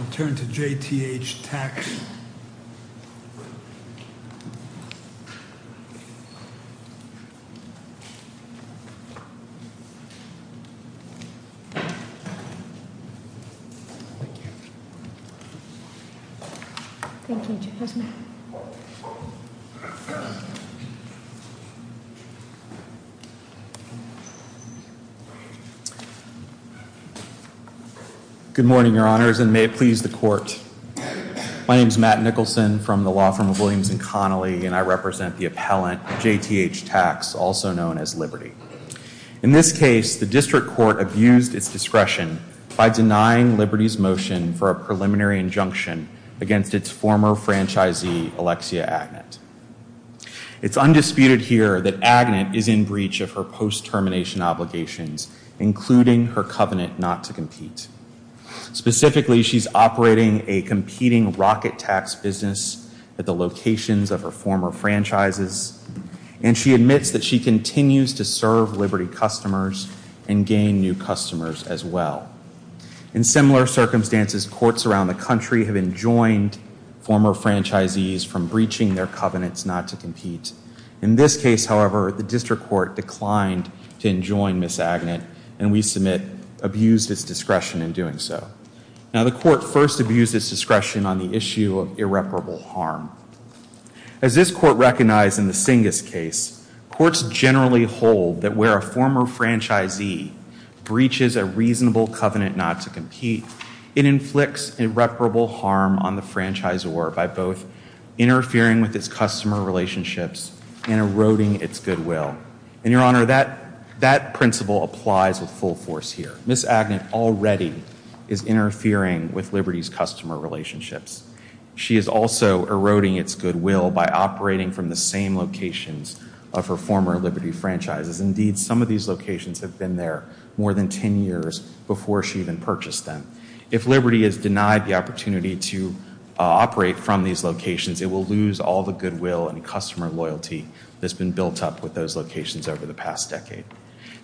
I'll turn to JTH Tax. Thank you, Mr. President. Good morning, Your Honors, and may it please the Court. My name is Matt Nicholson from the law firm of Williams & Connolly, and I represent the appellant JTH Tax, also known as Liberty. In this case, the District Court abused its discretion by denying Liberty's motion for a preliminary injunction against its former franchisee, Alexia Agnant. It's undisputed here that Agnant is in breach of her post-termination obligations, including her covenant not to compete. Specifically, she's operating a competing rocket tax business at the locations of her former franchises, and she admits that she continues to serve Liberty customers and gain new customers as well. In similar circumstances, courts around the country have enjoined former franchisees from breaching their covenants not to compete. In this case, however, the District Court declined to enjoin Ms. Agnant, and we submit abused its discretion in doing so. Now, the Court first abused its discretion on the issue of irreparable harm. As this Court recognized in the Singus case, courts generally hold that where a former franchisee breaches a reasonable covenant not to compete, it inflicts irreparable harm on the franchisor by both interfering with its customer relationships and eroding its goodwill. And, Your Honor, that principle applies with full force here. Ms. Agnant already is interfering with Liberty's customer relationships. She is also eroding its goodwill by operating from the same locations of her former Liberty franchises. Indeed, some of these locations have been there more than 10 years before she even purchased them. If Liberty is denied the opportunity to operate from these locations, it will lose all the goodwill and customer loyalty that's been built up with those locations over the past decade.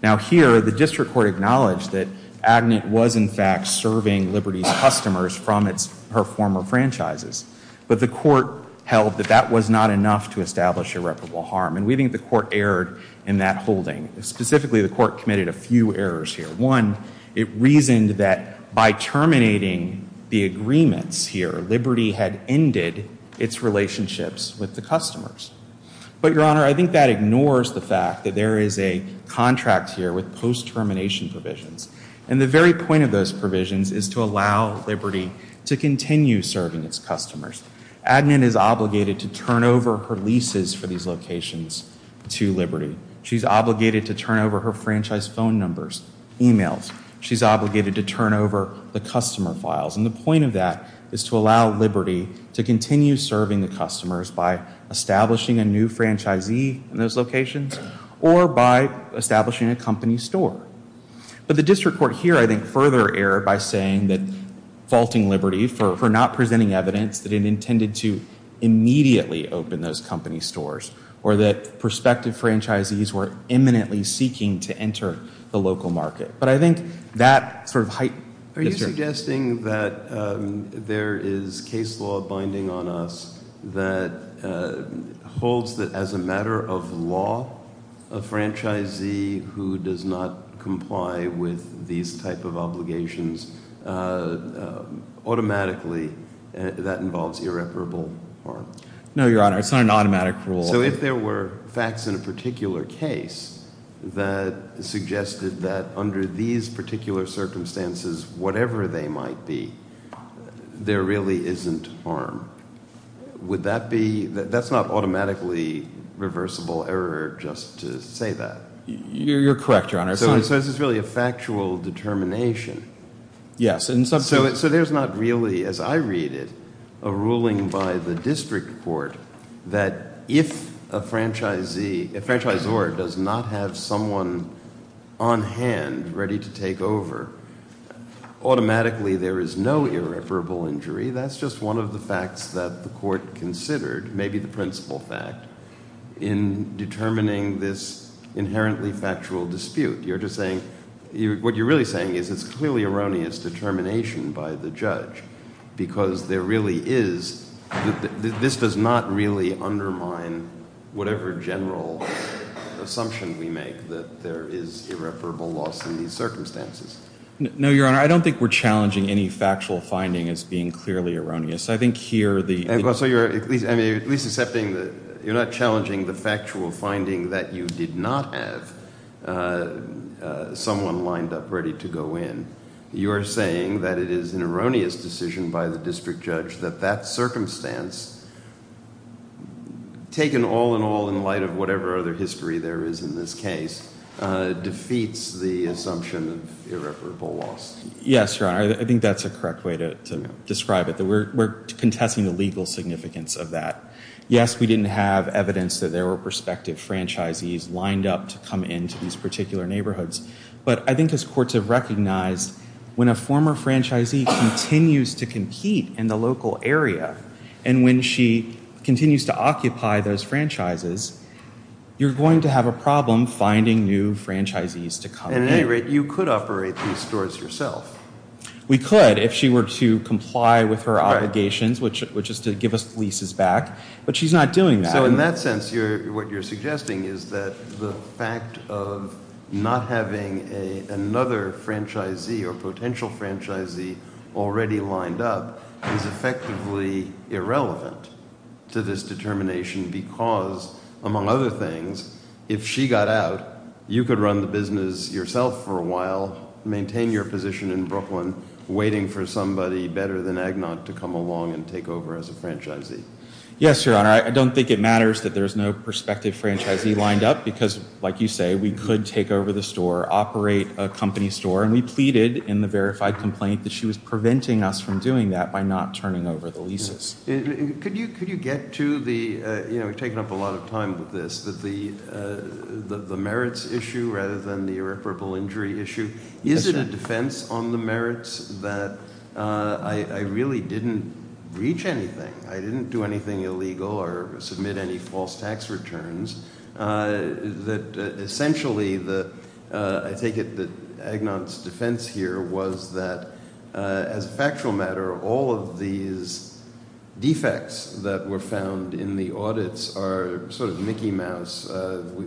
Now, here, the District Court acknowledged that Agnant was, in fact, serving Liberty's customers from her former franchises, but the Court held that that was not enough to establish irreparable harm, and we think the Court erred in that holding. Specifically, the Court committed a few errors here. One, it reasoned that by terminating the agreements here, Liberty had ended its relationships with the customers. But, Your Honor, I think that ignores the fact that there is a contract here with post-termination provisions, and the very point of those provisions is to allow Liberty to continue serving its customers. Agnant is obligated to turn over her leases for these locations to Liberty. She's obligated to turn over her franchise phone numbers, emails. She's obligated to turn over the customer files, and the point of that is to allow Liberty to continue serving the customers by establishing a new franchisee in those locations or by establishing a company store. But the District Court here, I think, further erred by saying that, faulting Liberty for not presenting evidence that it intended to immediately open those company stores or that prospective franchisees were imminently seeking to enter the local market. But I think that sort of hype… Are you suggesting that there is case law binding on us that holds that as a matter of law, a franchisee who does not comply with these type of obligations, automatically, that involves irreparable harm? No, Your Honor, it's not an automatic rule. So if there were facts in a particular case that suggested that under these particular circumstances, whatever they might be, there really isn't harm. That's not automatically reversible error just to say that. You're correct, Your Honor. So this is really a factual determination. Yes. So there's not really, as I read it, a ruling by the District Court that if a franchisee, a franchisor does not have someone on hand ready to take over, automatically there is no irreparable injury. That's just one of the facts that the Court considered, maybe the principal fact, in determining this inherently factual dispute. You're just saying… What you're really saying is it's clearly erroneous determination by the judge because there really is… This does not really undermine whatever general assumption we make that there is irreparable loss in these circumstances. No, Your Honor, I don't think we're challenging any factual finding as being clearly erroneous. I think here the… So you're at least accepting that you're not challenging the factual finding that you did not have someone lined up ready to go in. You're saying that it is an erroneous decision by the district judge that that circumstance, taken all in all in light of whatever other history there is in this case, defeats the assumption of irreparable loss. Yes, Your Honor, I think that's a correct way to describe it. We're contesting the legal significance of that. Yes, we didn't have evidence that there were prospective franchisees lined up to come into these particular neighborhoods, but I think this Court should recognize when a former franchisee continues to compete in the local area and when she continues to occupy those franchises, you're going to have a problem finding new franchisees to come. At any rate, you could operate these stores yourself. We could if she were to comply with her obligations, which is to give us leases back, but she's not doing that. So in that sense, what you're suggesting is that the fact of not having another franchisee or potential franchisee already lined up is effectively irrelevant to this determination because, among other things, if she got out, you could run the business yourself for a while, maintain your position in Brooklyn, waiting for somebody better than Agnot to come along and take over as a franchisee. Yes, Your Honor, I don't think it matters that there's no prospective franchisee lined up because, like you say, we could take over the store, operate a company store, and we pleaded in the verified complaint that she was preventing us from doing that by not turning over the leases. Could you get to the merits issue rather than the irreparable injury issue? Is it a defense on the merits that I really didn't breach anything, I didn't do anything illegal or submit any false tax returns, that essentially I think Agnot's defense here was that, as a factual matter, all of these defects that were found in the audits are sort of Mickey Mouse.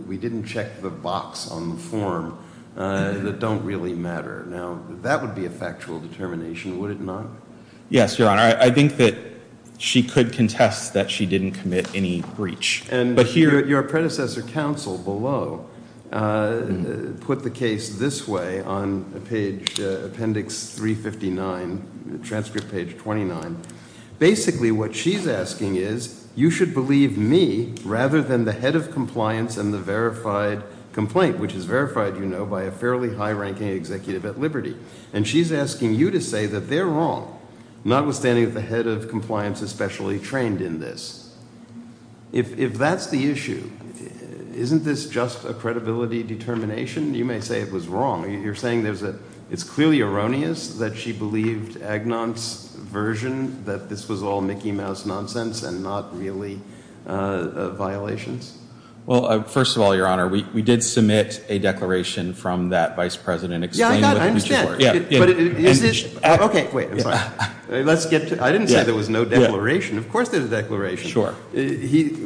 We didn't check the box on the form that don't really matter. Now, that would be a factual determination, would it not? Yes, Your Honor, I think that she could contest that she didn't commit any breach. Your predecessor counsel below put the case this way on page, appendix 359, transcript page 29. Basically what she's asking is, you should believe me rather than the head of compliance and the verified complaint, which is verified, you know, by a fairly high-ranking executive at Liberty. And she's asking you to say that they're wrong, notwithstanding that the head of compliance is specially trained in this. If that's the issue, isn't this just a credibility determination? You may say it was wrong. You're saying it's clearly erroneous that she believed Agnot's version, that this was all Mickey Mouse nonsense and not really a violation? Well, first of all, Your Honor, we did submit a declaration from that vice president. Yeah, I understand. Okay, wait. I didn't say there was no declaration. Of course there's a declaration. Sure.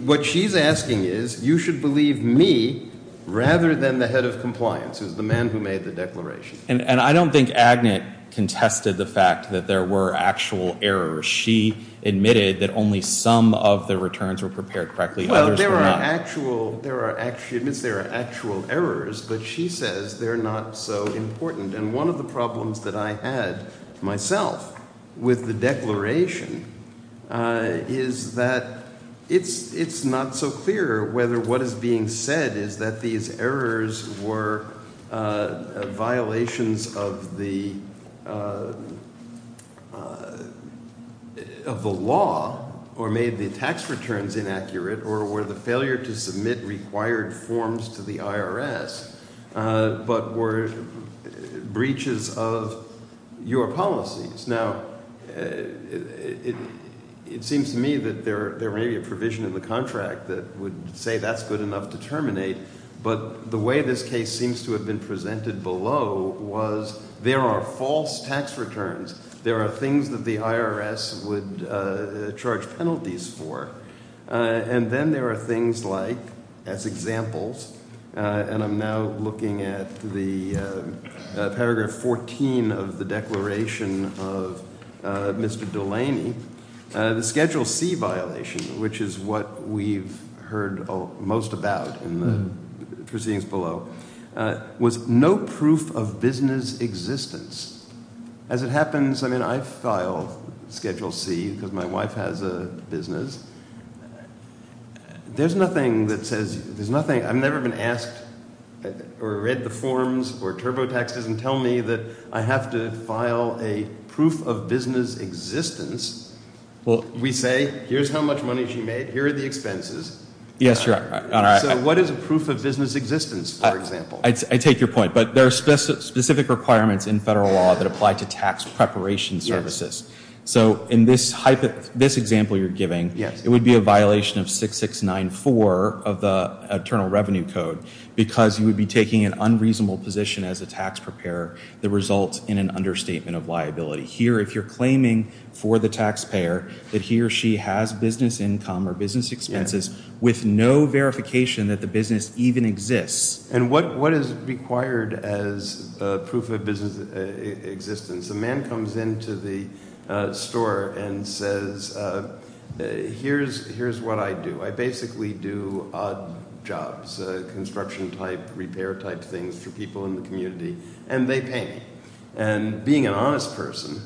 What she's asking is, you should believe me rather than the head of compliance, the man who made the declaration. And I don't think Agnot contested the fact that there were actual errors. She admitted that only some of the returns were prepared correctly. Well, there are actual errors, but she says they're not so important. And one of the problems that I had myself with the declaration is that it's not so clear whether what is being said is that these errors were violations of the law or made the tax returns inaccurate or were the failure to submit required forms to the IRS, but were breaches of your policies. Now, it seems to me that there may be a provision in the contract that would say that's good enough to terminate, but the way this case seems to have been presented below was there are false tax returns. There are things that the IRS would charge penalties for. And then there are things like, as examples, and I'm now looking at the paragraph 14 of the declaration of Mr. Delaney, the Schedule C violation, which is what we've heard most about in the proceedings below, was no proof of business existence. As it happens, I mean, I file Schedule C because my wife has a business. There's nothing that says – I've never been asked or read the forms or TurboTaxes and tell me that I have to file a proof of business existence. Well, we say here's how much money she made, here are the expenses. Yes, you're right. So what is a proof of business existence, for example? I take your point, but there are specific requirements in federal law that apply to tax preparation services. So in this example you're giving, it would be a violation of 6694 of the Internal Revenue Code because you would be taking an unreasonable position as a tax preparer that results in an understatement of liability. Here, if you're claiming for the taxpayer that he or she has business income or business expenses with no verification that the business even exists. And what is required as proof of business existence? A man comes into the store and says, here's what I do. I basically do odd jobs, construction-type, repair-type things to people in the community, and they pay me. And being an honest person,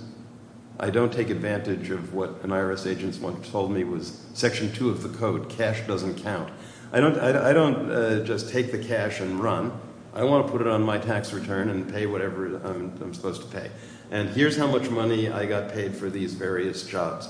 I don't take advantage of what an IRS agent once told me was Section 2 of the Code, cash doesn't count. I don't just take the cash and run. I want to put it on my tax return and pay whatever I'm supposed to pay. And here's how much money I got paid for these various jobs.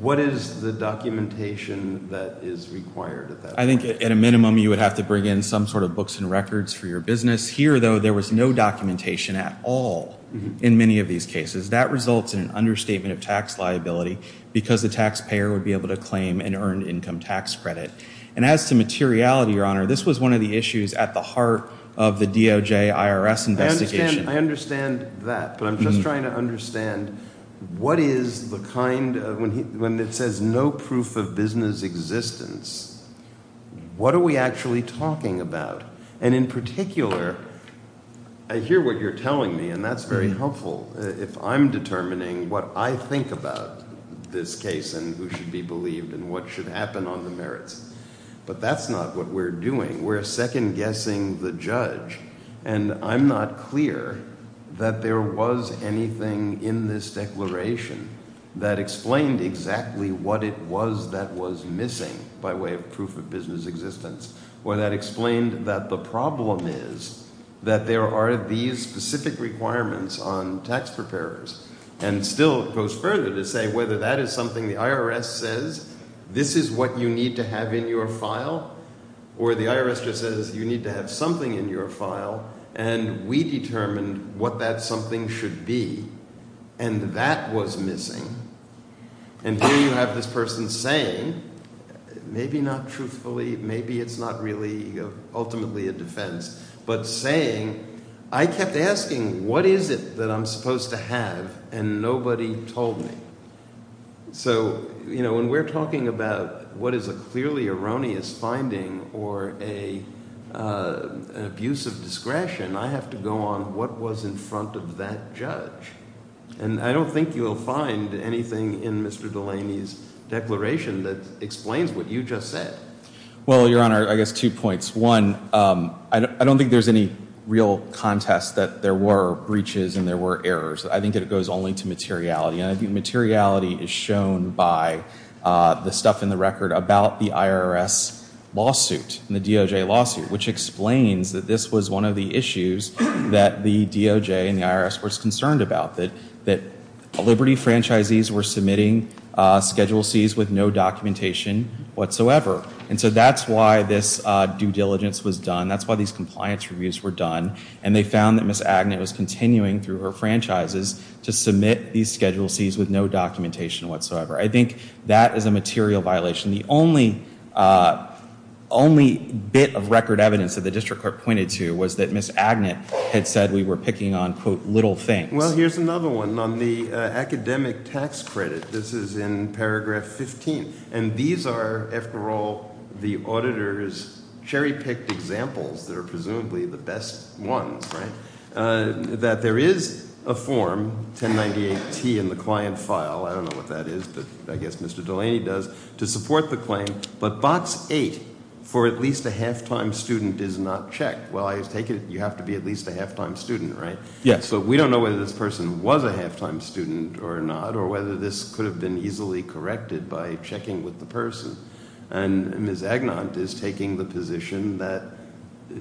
What is the documentation that is required? I think at a minimum you would have to bring in some sort of books and records for your business. Here, though, there was no documentation at all in many of these cases. That results in an understatement of tax liability because the taxpayer would be able to claim an earned income tax credit. And as to materiality, Your Honor, this was one of the issues at the heart of the DOJ-IRS investigation. I understand that, but I'm just trying to understand what is the kind of, when it says no proof of business existence, what are we actually talking about? And in particular, I hear what you're telling me, and that's very helpful, if I'm determining what I think about this case and who should be believed and what should happen on the merits. But that's not what we're doing. We're second-guessing the judge, and I'm not clear that there was anything in this declaration that explained exactly what it was that was missing by way of proof of business existence, or that explained that the problem is that there are these specific requirements on tax preparers. And still, it goes further to say whether that is something the IRS says, this is what you need to have in your file, or the IRS just says you need to have something in your file, and we determine what that something should be. And that was missing. And here you have this person saying, maybe not truthfully, maybe it's not really ultimately a defense, but saying, I kept asking what is it that I'm supposed to have, and nobody told me. So, you know, when we're talking about what is a clearly erroneous finding or an abuse of discretion, I have to go on what was in front of that judge. And I don't think you'll find anything in Mr. Delaney's declaration that explains what you just said. Well, Your Honor, I guess two points. One, I don't think there's any real contest that there were breaches and there were errors. I think it goes only to materiality, and I think materiality is shown by the stuff in the record about the IRS lawsuit, which explains that this was one of the issues that the DOJ and the IRS was concerned about, that Liberty franchisees were submitting Schedule Cs with no documentation whatsoever. And so that's why this due diligence was done, that's why these compliance reviews were done, and they found that Ms. Agnew was continuing through her franchises to submit these Schedule Cs with no documentation whatsoever. I think that is a material violation. The only bit of record evidence that the district court pointed to was that Ms. Agnew had said we were picking on, quote, little things. Well, here's another one. On the academic tax credit, this is in paragraph 15, and these are, after all, the auditor's cherry-picked examples that are presumably the best ones, right, that there is a form, 1098-T in the client file, I don't know what that is, but I guess Mr. Delaney does, to support the claim, but box 8, for at least a half-time student, is not checked. Well, I take it you have to be at least a half-time student, right? Yes. So we don't know whether this person was a half-time student or not, or whether this could have been easily corrected by checking with the person. And Ms. Agnew is taking the position that,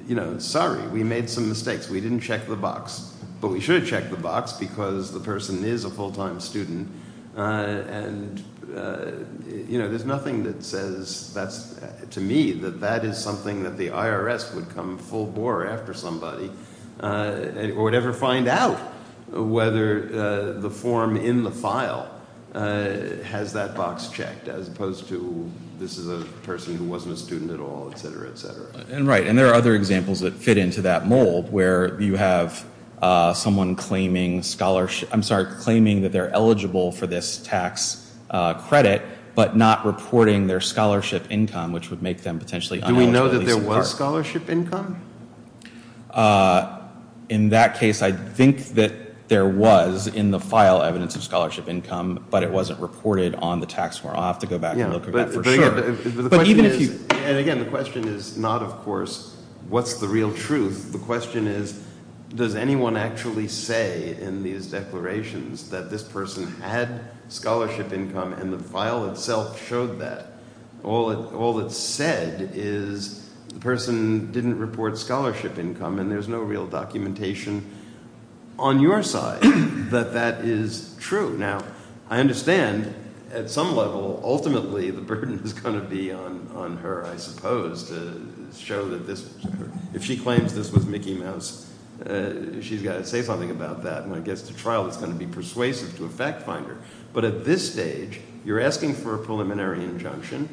you know, sorry, we made some mistakes, we didn't check the box. But we should have checked the box because the person is a full-time student, and, you know, there's nothing that says, to me, that that is something that the IRS would come full-bore after somebody, or would ever find out whether the form in the file has that box checked, as opposed to this is a person who wasn't a student at all, et cetera, et cetera. Right, and there are other examples that fit into that mold, where you have someone claiming scholarship, I'm sorry, claiming that they're eligible for this tax credit, but not reporting their scholarship income, which would make them potentially un-eligible. Do we know that there was scholarship income? In that case, I think that there was in the file evidence of scholarship income, but it wasn't reported on the tax form. I'll have to go back and look at that for sure. And again, the question is not, of course, what's the real truth. The question is, does anyone actually say in these declarations that this person had scholarship income, and the file itself showed that? All it said is the person didn't report scholarship income, and there's no real documentation on your side that that is true. Now, I understand at some level, ultimately, the burden is going to be on her, I suppose, to show that if she claims this was Mickey Mouse, she's got to say something about that. When it gets to trial, it's going to be persuasive to a fact finder. But at this stage, you're asking for a preliminary injunction,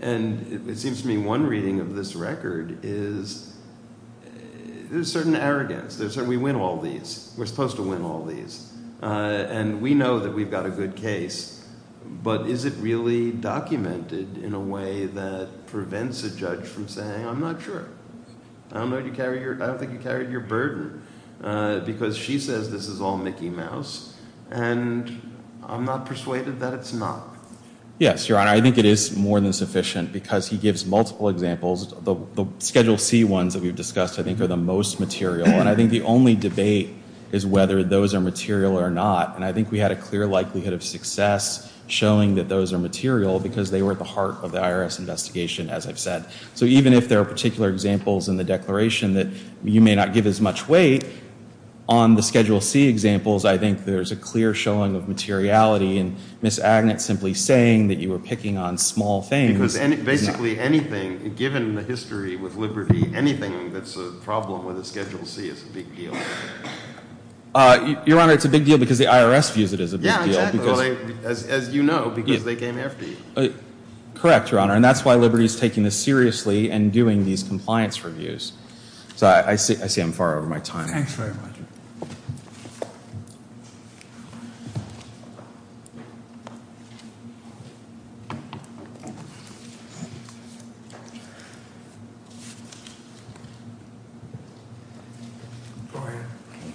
and it seems to me one reading of this record is there's a certain arrogance. We win all these. We're supposed to win all these. And we know that we've got a good case, but is it really documented in a way that prevents a judge from saying, I'm not sure. I don't think you carried your burden, because she says this is all Mickey Mouse, and I'm not persuaded that it's not. Yes, Your Honor, I think it is more than sufficient, because he gives multiple examples. The Schedule C ones that we've discussed, I think, are the most material, and I think the only debate is whether those are material or not. And I think we had a clear likelihood of success showing that those are material, because they were at the heart of the IRS investigation, as I've said. So even if there are particular examples in the declaration that you may not give as much weight, on the Schedule C examples, I think there's a clear showing of materiality, and Ms. Agnett simply saying that you were picking on small things. Given the history with Liberty, anything that's a problem with the Schedule C is a big deal. Your Honor, it's a big deal because the IRS views it as a big deal. As you know, because they came after you. Correct, Your Honor, and that's why Liberty is taking this seriously and doing these compliance reviews. I see I'm far over my time. Thanks very much.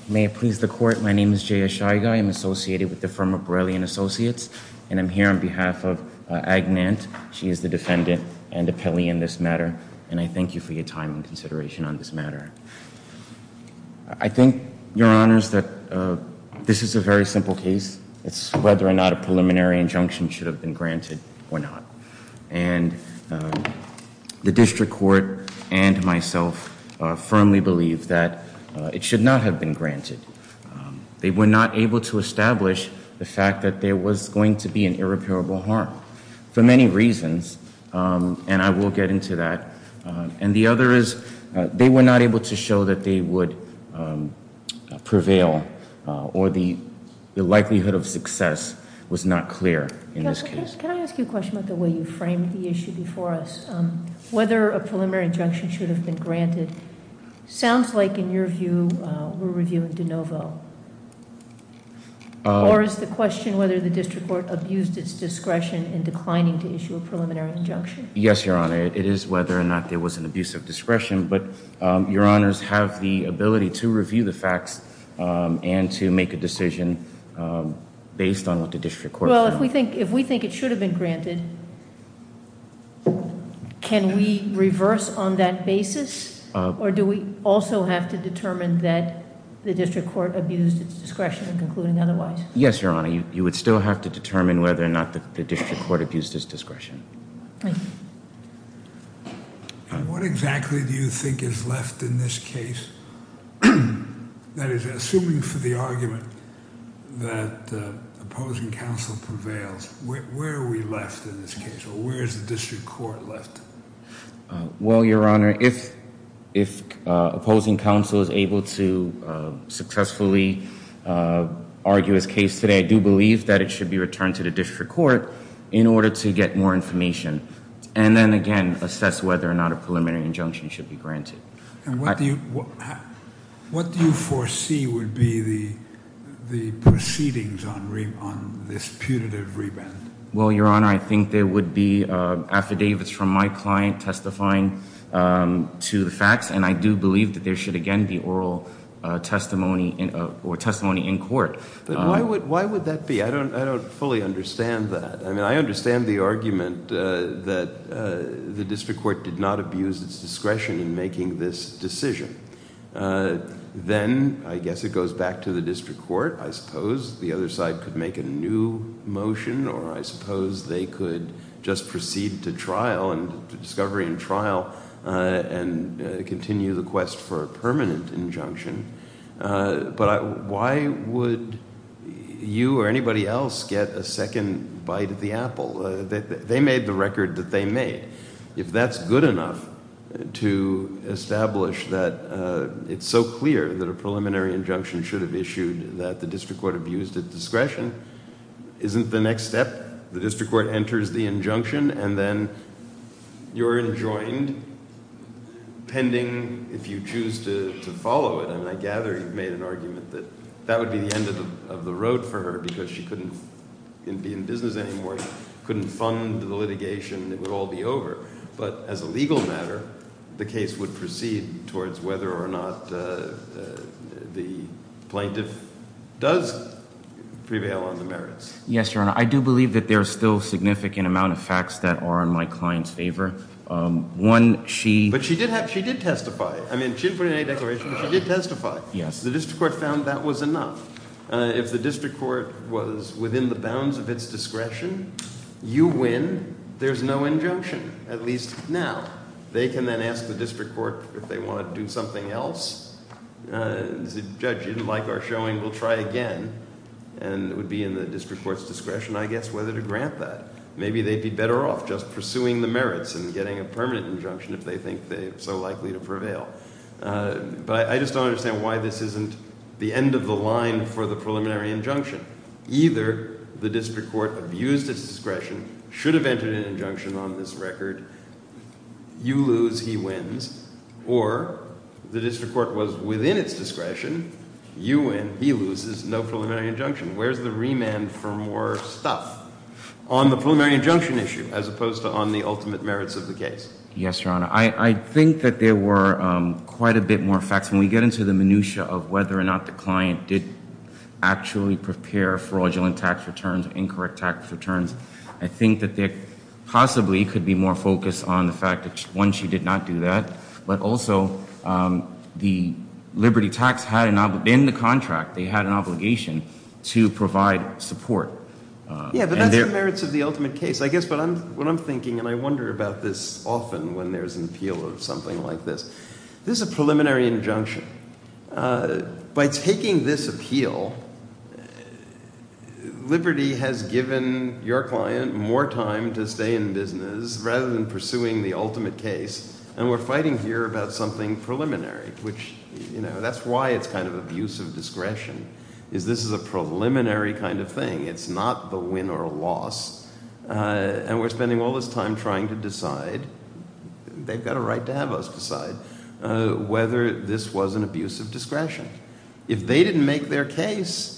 May it please the Court, my name is Jay Ashaiga. I'm associated with the Firm of Borelli & Associates, and I'm here on behalf of Agnett. She is the defendant and the penalty in this matter, and I thank you for your time and consideration on this matter. I think, Your Honors, that this is a very simple case. It's whether or not a preliminary injunction should have been granted or not. And the district court and myself firmly believe that it should not have been granted. They were not able to establish the fact that there was going to be an irreparable harm for many reasons, and I will get into that. And the other is they were not able to show that they would prevail or the likelihood of success was not clear in this case. Judge, can I ask you a question about the way you framed the issue before us? Whether a preliminary injunction should have been granted? Sounds like, in your view, we're reviewing de novo. Or is the question whether the district court abused its discretion in declining to issue a preliminary injunction? Yes, Your Honor. It is whether or not there was an abuse of discretion, but Your Honors have the ability to review the fact and to make a decision based on what the district court said. Well, if we think it should have been granted, can we reverse on that basis? Or do we also have to determine that the district court abused its discretion in concluding otherwise? Yes, Your Honor. You would still have to determine whether or not the district court abused its discretion. Okay. And what exactly do you think is left in this case? That is, assuming for the argument that opposing counsel prevails, where are we left in this case? Where is the district court left? Well, Your Honor, if opposing counsel is able to successfully argue his case today, I do believe that it should be returned to the district court in order to get more information and then, again, assess whether or not a preliminary injunction should be granted. And what do you foresee would be the proceedings on this putative remand? Well, Your Honor, I think there would be affidavits from my client testifying to the facts, and I do believe that there should, again, be oral testimony or testimony in court. But why would that be? I don't fully understand that. I mean, I understand the argument that the district court did not abuse its discretion in making this decision. Then, I guess it goes back to the district court, I suppose. The other side could make a new motion, or I suppose they could just proceed to trial and discovering trial and continue the quest for a permanent injunction. But why would you or anybody else get a second bite of the apple? They made the record that they made. If that's good enough to establish that it's so clear that a preliminary injunction should have issued that the district court abused its discretion, isn't the next step the district court enters the injunction and then you're enjoined pending if you choose to follow it? I mean, I gather you've made an argument that that would be the end of the road for her because she couldn't be in business anymore, couldn't fund the litigation, it would all be over. But as a legal matter, the case would proceed towards whether or not the plaintiff does prevail on the merits. Yes, Your Honor, I do believe that there's still a significant amount of facts that are in my client's favor. But she did testify. I mean, she didn't put it in any declaration, but she did testify. The district court found that was enough. If the district court was within the bounds of its discretion, you win, there's no injunction, at least now. They can then ask the district court if they want to do something else. The judge didn't like our showing, we'll try again. And it would be in the district court's discretion, I guess, whether to grant that. Maybe they'd be better off just pursuing the merits and getting a permanent injunction if they think they're so likely to prevail. But I just don't understand why this isn't the end of the line for the preliminary injunction. Either the district court abused its discretion, should have entered an injunction on this record, you lose, he wins, or the district court was within its discretion, you win, he loses, no preliminary injunction. Where's the remand for more stuff? On the preliminary injunction issue, as opposed to on the ultimate merits of the case. Yes, Your Honor, I think that there were quite a bit more facts. When we get into the minutiae of whether or not the client did actually prepare fraudulent tax returns, incorrect tax returns, I think that they possibly could be more focused on the fact that, one, she did not do that, but also the Liberty Tax, in the contract, they had an obligation to provide support. Yes, the merits of the ultimate case. I guess what I'm thinking, and I wonder about this often when there's an appeal or something like this, this is a preliminary injunction. By taking this appeal, Liberty has given your client more time to stay in business rather than pursuing the ultimate case, and we're fighting here about something preliminary, which, you know, that's why it's kind of abuse of discretion, is this is a preliminary kind of thing. It's not the win or a loss, and we're spending all this time trying to decide, they've got a right to have us decide, whether this was an abuse of discretion. If they didn't make their case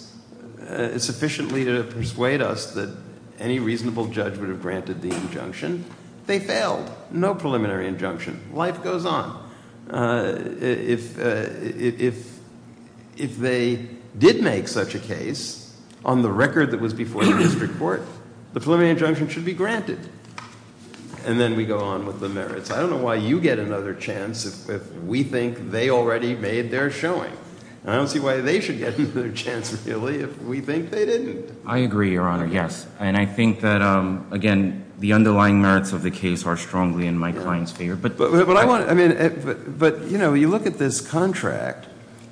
sufficiently to persuade us that any reasonable judge would have granted the injunction, they failed. No preliminary injunction. Life goes on. If they did make such a case on the record that was before the district court, the preliminary injunction should be granted. And then we go on with the merits. I don't know why you get another chance if we think they already made their showing. I don't see why they should get another chance, really, if we think they didn't. I agree, Your Honor, yes. And I think that, again, the underlying merits of the case are strongly in my client's favor. But, you know, you look at this contract.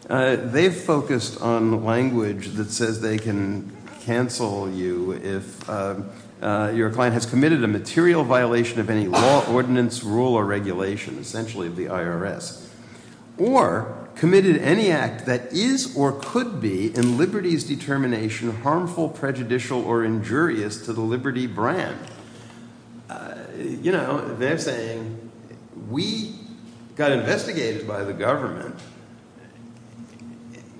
They've focused on language that says they can cancel you if your client has committed a material violation of any law, ordinance, rule, or regulation, essentially of the IRS, or committed any act that is or could be in Liberty's determination harmful, prejudicial, or injurious to the Liberty brand. You know, they're saying, we got investigated by the government.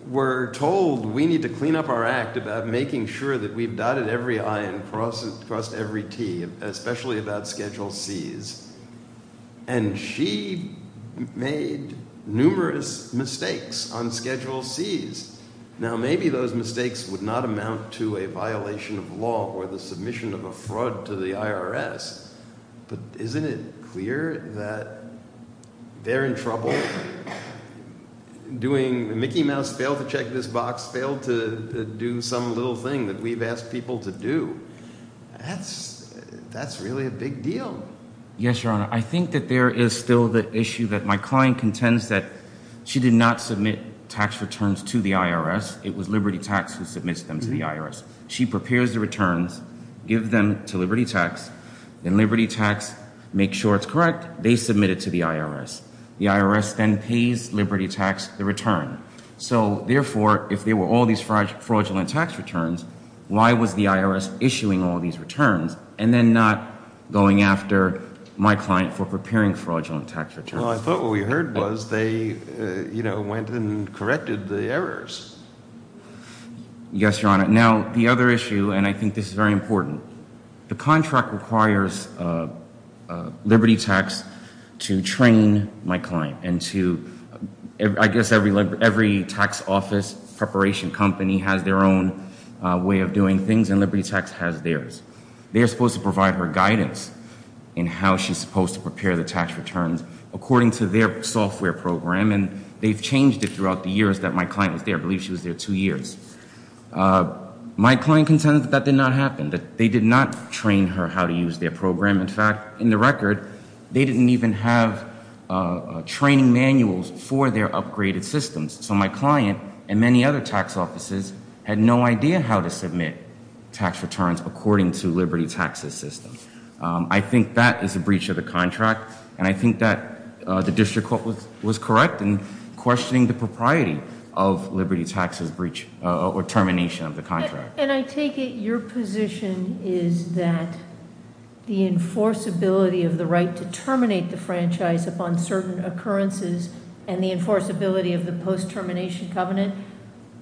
We're told we need to clean up our act about making sure that we've dotted every I and crossed every T, especially about Schedule Cs. And she made numerous mistakes on Schedule Cs. Now, maybe those mistakes would not amount to a violation of law or the submission of a fraud to the IRS. But isn't it clear that they're in trouble? Doing the Mickey Mouse, fail to check this box, fail to do some little thing that we've asked people to do. That's really a big deal. Yes, Your Honor. I think that there is still the issue that my client contends that she did not submit tax returns to the IRS. It was Liberty Tax who submits them to the IRS. She prepares the returns, gives them to Liberty Tax, and Liberty Tax makes sure it's correct. They submit it to the IRS. The IRS then pays Liberty Tax the return. So, therefore, if there were all these fraudulent tax returns, why was the IRS issuing all these returns and then not going after my client for preparing fraudulent tax returns? Well, I thought what we heard was they, you know, went and corrected the errors. Yes, Your Honor. Now, the other issue, and I think this is very important. The contract requires Liberty Tax to train my client and to... I guess every tax office preparation company has their own way of doing things, and Liberty Tax has theirs. They're supposed to provide her guidance in how she's supposed to prepare the tax returns according to their software program, and they've changed it throughout the years that my client was there. I believe she was there two years. My client contends that that did not happen, that they did not train her how to use their program. In fact, in the record, they didn't even have training manuals for their upgraded systems. So my client and many other tax offices had no idea how to submit tax returns according to Liberty Tax's system. I think that is a breach of the contract, and I think that the district court was correct in questioning the propriety of Liberty Tax's breach or termination of the contract. And I take it your position is that the enforceability of the right to terminate the franchise upon certain occurrences and the enforceability of the post-termination covenant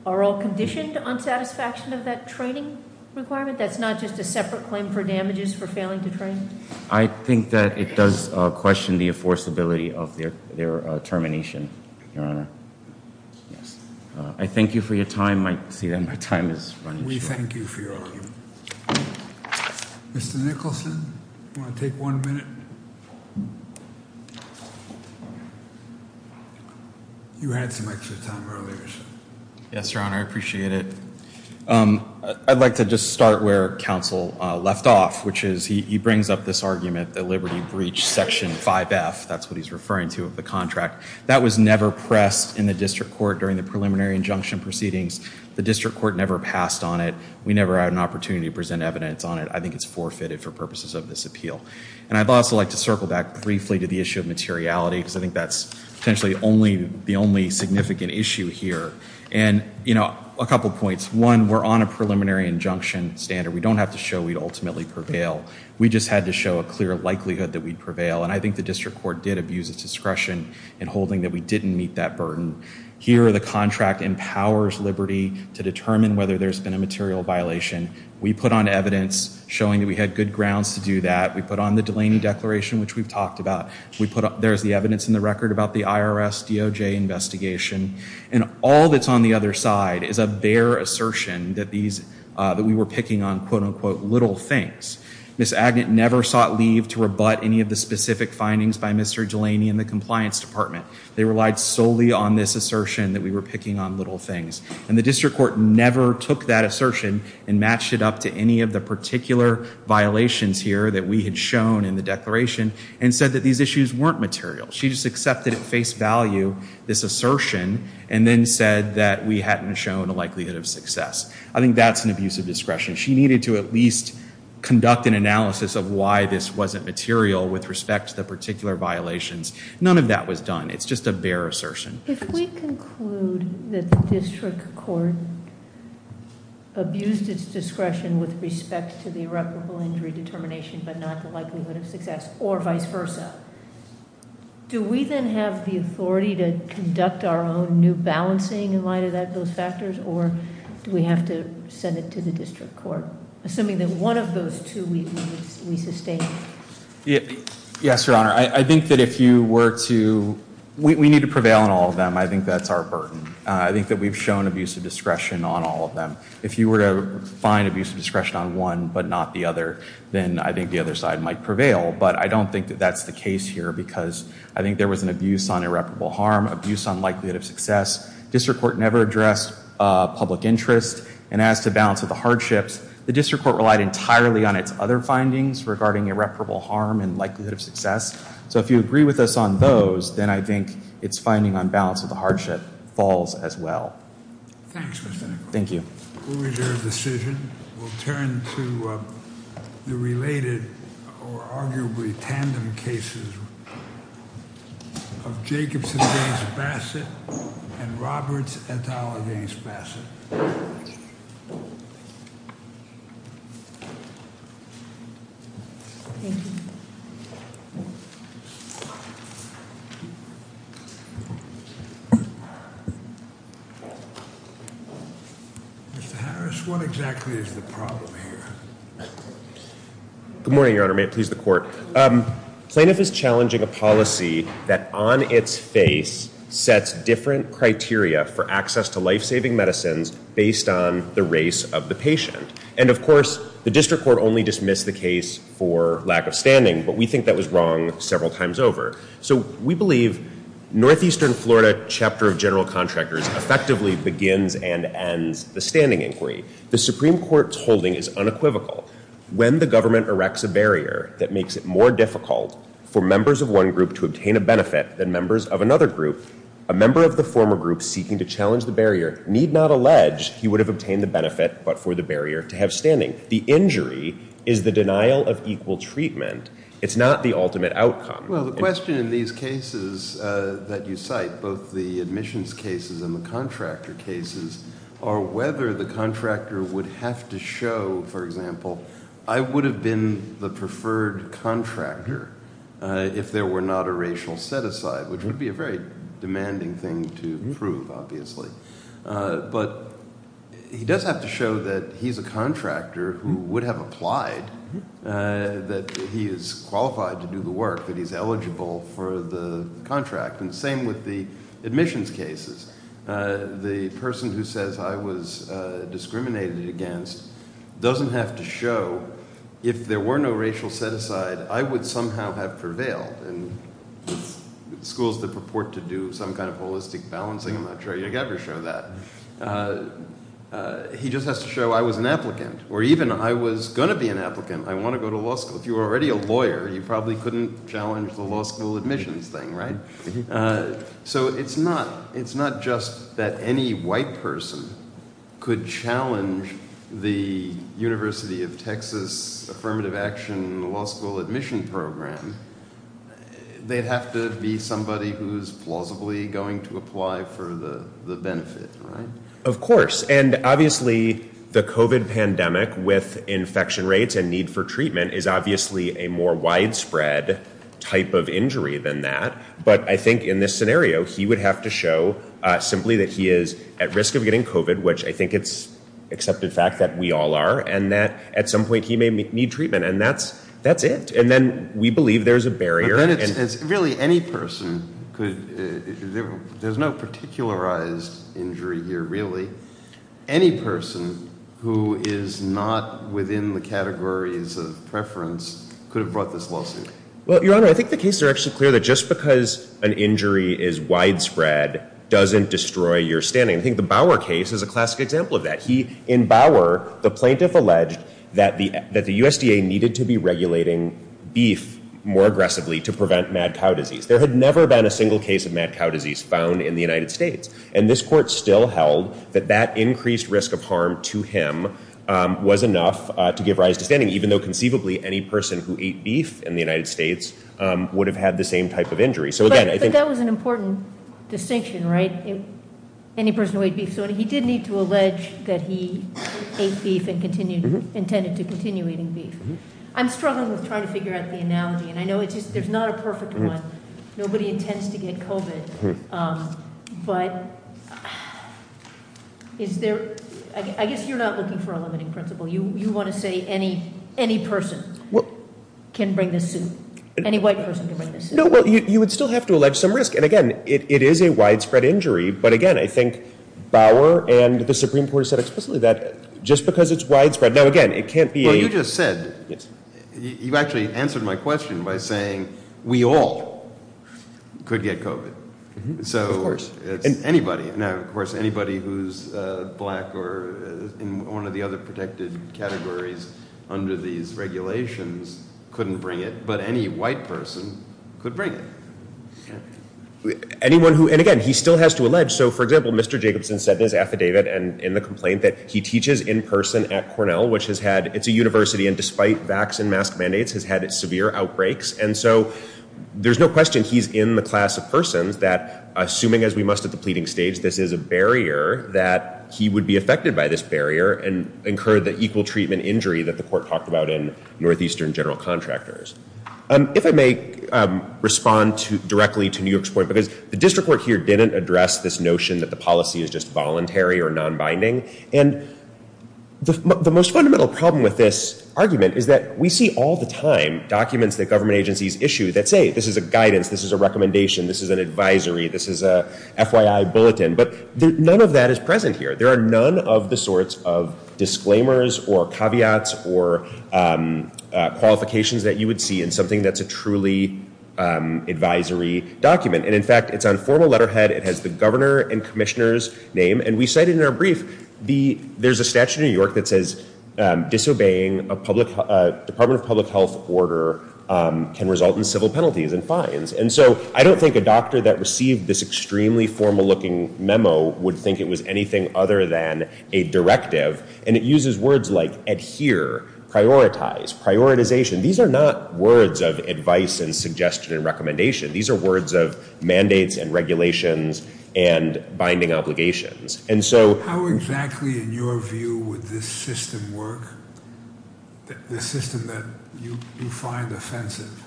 are all conditioned on satisfaction of that training requirement? That's not just a separate claim for damages for failing to terminate? I think that it does question the enforceability of their termination, Your Honor. I thank you for your time. I see that my time is up. We thank you for your time. Mr. Nicholson, do you want to take one minute? You had some extra time earlier. Yes, Your Honor. I appreciate it. I'd like to just start where counsel left off, which is he brings up this argument that Liberty breached Section 5F. That's what he's referring to of the contract. That was never pressed in the district court during the preliminary injunction proceedings. The district court never passed on it. We never had an opportunity to present evidence on it. I think it's forfeited for purposes of this appeal. And I'd also like to circle back briefly to the issue of materiality, because I think that's essentially the only significant issue here. And, you know, a couple points. One, we're on a preliminary injunction standard. We don't have to show we ultimately prevail. We just had to show a clear likelihood that we'd prevail. And I think the district court did abuse its discretion in holding that we didn't meet that burden. Here, the contract empowers Liberty to determine whether there's been a material violation. We put on evidence showing that we had good grounds to do that. We put on the Delaney Declaration, which we've talked about. There's the evidence in the record about the IRS DOJ investigation. And all that's on the other side is a bare assertion that we were picking on, quote-unquote, little things. Ms. Agnew never sought leave to rebut any of the specific findings by Mr. Delaney and the Compliance Department. They relied solely on this assertion that we were picking on little things. And the district court never took that assertion and matched it up to any of the particular violations here that we had shown in the Declaration and said that these issues weren't material. She just accepted at face value this assertion and then said that we hadn't shown a likelihood of success. I think that's an abuse of discretion. She needed to at least conduct an analysis of why this wasn't material with respect to particular violations. None of that was done. It's just a bare assertion. If we conclude that the district court abused its discretion with respect to the irreparable injury determination but not the likelihood of success or vice versa, do we then have the authority to conduct our own new balancing in light of those factors or do we have to send it to the district court, assuming that one of those two we sustain? Yes, Your Honor. I think that if you were to, we need to prevail on all of them. I think that's our burden. I think that we've shown abuse of discretion on all of them. If you were to find abuse of discretion on one but not the other, then I think the other side might prevail. But I don't think that that's the case here because I think there was an abuse on irreparable harm, abuse on likelihood of success. District court never addressed public interest. And as to balance of the hardships, the district court relied entirely on its other findings regarding irreparable harm and likelihood of success. So if you agree with us on those, then I think its finding on balance of the hardship falls as well. Thanks, Mr. Nicholson. Thank you. The ruling of the decision will turn to the related or arguably tandem cases of Jacobson v. Bassett and Roberts v. Bassett. Mr. Harris, what exactly is the problem here? Good morning, Your Honor. May it please the court. Plaintiff is challenging a policy that on its face sets different criteria for access to life-saving medicines based on the race of the patient. And of course, the district court only dismissed the case for lack of standing, but we think that was wrong several times over. So we believe Northeastern Florida Chapter of General Contractors effectively begins and ends the standing inquiry. The Supreme Court's holding is unequivocal. When the government erects a barrier that makes it more difficult for members of one group to obtain a benefit than members of another group, a member of the former group seeking to challenge the barrier need not allege he would have obtained the benefit but for the barrier to have standing. The injury is the denial of equal treatment. It's not the ultimate outcome. Well, the question in these cases that you cite, both the admissions cases and the contractor cases, are whether the contractor would have to show, for example, I would have been the preferred contractor if there were not a racial set-aside, which would be a very demanding thing to prove, obviously. But he does have to show that he's a contractor who would have applied, that he is qualified to do the work, that he's eligible for the contract. And the same with the admissions cases. The person who says I was discriminated against doesn't have to show if there were no racial set-aside, I would somehow have prevailed. And schools that purport to do some kind of holistic balancing, I'm not sure you ever show that. He just has to show I was an applicant or even I was going to be an applicant. I want to go to law school. If you were already a lawyer, you probably couldn't challenge the law school admissions thing, right? So it's not just that any white person could challenge the University of Texas Affirmative Action Law School admission program. They'd have to be somebody who's plausibly going to apply for the benefit, right? Of course. And obviously, the COVID pandemic with infection rates and need for treatment is obviously a more widespread type of injury than that. But I think in this scenario, he would have to show simply that he is at risk of getting COVID, which I think it's an accepted fact that we all are. And that at some point he may need treatment. And that's it. And then we believe there's a barrier. Really, any person could – there's no particularized injury here, really. Any person who is not within the categories of preference could have brought this lawsuit. Well, Your Honor, I think the cases are actually clear that just because an injury is widespread doesn't destroy your standing. I think the Bauer case is a classic example of that. In Bauer, the plaintiff alleged that the USDA needed to be regulating beef more aggressively to prevent mad cow disease. There had never been a single case of mad cow disease found in the United States. And this court still held that that increased risk of harm to him was enough to give rise to standing, even though conceivably any person who ate beef in the United States would have had the same type of injury. But that was an important distinction, right? Any person who ate beef. So he did need to allege that he ate beef and intended to continue eating beef. I'm struggling with trying to figure out the analogy, and I know there's not a perfect one. Nobody intends to get COVID. But I guess you're not looking for a limiting principle. You want to say any, any person can bring this to any white person. No, well, you would still have to allege some risk. And again, it is a widespread injury. But again, I think Bauer and the Supreme Court said explicitly that just because it's widespread. Now, again, it can't be. You just said you actually answered my question by saying we all could get COVID. So anybody. Now, of course, anybody who's black or in one of the other protected categories under these regulations couldn't bring it. But any white person could bring it. Anyone who and again, he still has to allege. So, for example, Mr. Jacobson said it affidavit. And in the complaint that he teaches in person at Cornell, which has had it's a university. And despite vaccine mask mandates has had severe outbreaks. And so there's no question he's in the class of person that assuming as we must have the pleading states. This is a barrier that he would be affected by this barrier and incur the equal treatment injury that the court talked about in northeastern general contractors. If I may respond directly to New York's point, because the district court here didn't address this notion that the policy is just voluntary or nonbinding. And the most fundamental problem with this argument is that we see all the time documents that government agencies issue that say this is a guidance. This is a recommendation. This is an advisory. This is a F.Y.I. bulletin. But none of that is present here. There are none of the sorts of disclaimers or caveats or qualifications that you would see in something that's a truly advisory document. And in fact, it's on formal letterhead. It has the governor and commissioners name. And we said in our brief, there's a statute in New York that says disobeying a public public health order can result in civil penalties and fines. And so I don't think a doctor that received this extremely formal looking memo would think it was anything other than a directive. And it uses words like adhere, prioritize, prioritization. These are not words of advice and suggestion and recommendation. These are words of mandates and regulations and binding obligations. And so how exactly in your view would this system work, the system that you find offensive?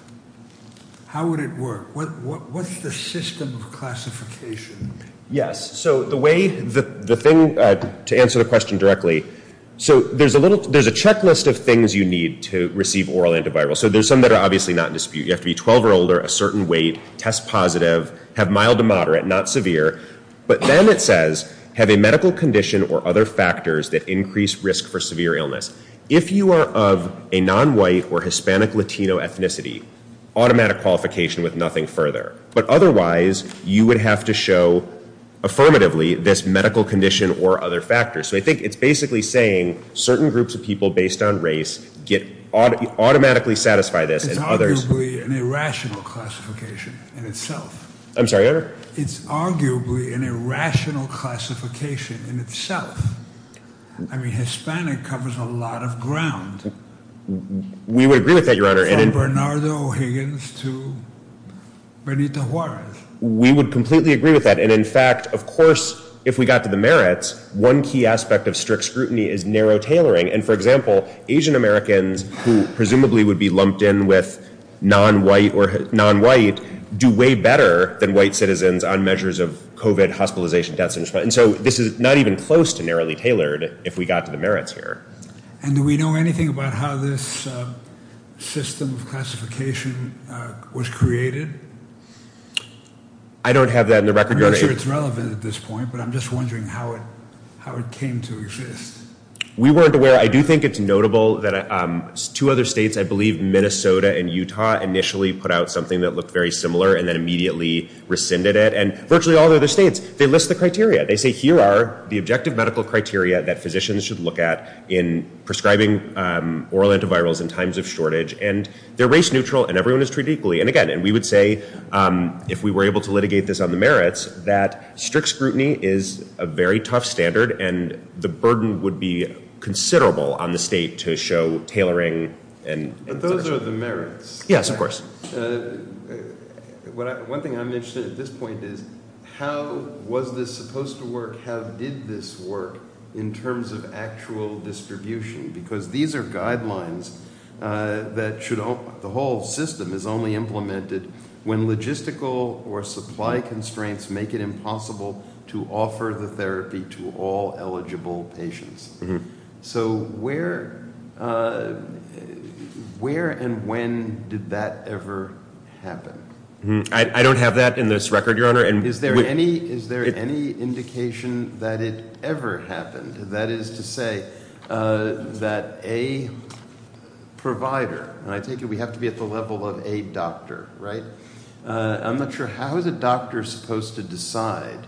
How would it work? What's the system classification? Yes. So the way the thing to answer the question directly. So there's a little there's a checklist of things you need to receive oral antiviral. So there's some that are obviously not in dispute. You have to be 12 or older, a certain weight, test positive, have mild to moderate, not severe. But then it says have a medical condition or other factors that increase risk for severe illness. If you are of a nonwhite or Hispanic Latino ethnicity, automatic qualification with nothing further. But otherwise, you would have to show affirmatively this medical condition or other factors. So I think it's basically saying certain groups of people based on race get automatically satisfy this. It's arguably an irrational classification in itself. I'm sorry. It's arguably an irrational classification in itself. I mean, Hispanic covers a lot of ground. We would agree with that, Your Honor. From Bernardo Higgins to Bernita Warren. We would completely agree with that. And in fact, of course, if we got to the merits, one key aspect of strict scrutiny is narrow tailoring. And for example, Asian-Americans who presumably would be lumped in with nonwhite or nonwhite do way better than white citizens on measures of COVID hospitalization. And so this is not even close to narrowly tailored if we got to the merits here. And do we know anything about how this system of classification was created? I don't have that on the record. I'm not sure it's relevant at this point, but I'm just wondering how it came to exist. We weren't aware. I do think it's notable that two other states, I believe Minnesota and Utah, initially put out something that looked very similar and then immediately rescinded it. And virtually all the other states, they list the criteria. They say here are the objective medical criteria that physicians should look at in prescribing oral antivirals in times of shortage. And they're race neutral and everyone is treated equally. And again, we would say if we were able to litigate this on the merits that strict scrutiny is a very tough standard and the burden would be considerable on the state to show tailoring. But those are the merits. Yes, of course. One thing I'm interested in at this point is how was this supposed to work? How did this work in terms of actual distribution? Because these are guidelines that the whole system is only implemented when logistical or supply constraints make it impossible to offer the therapy to all eligible patients. So where and when did that ever happen? I don't have that in this record, Your Honor. Is there any indication that it ever happened? That is to say that a provider, and I think we have to be at the level of a doctor, right? I'm not sure how the doctor is supposed to decide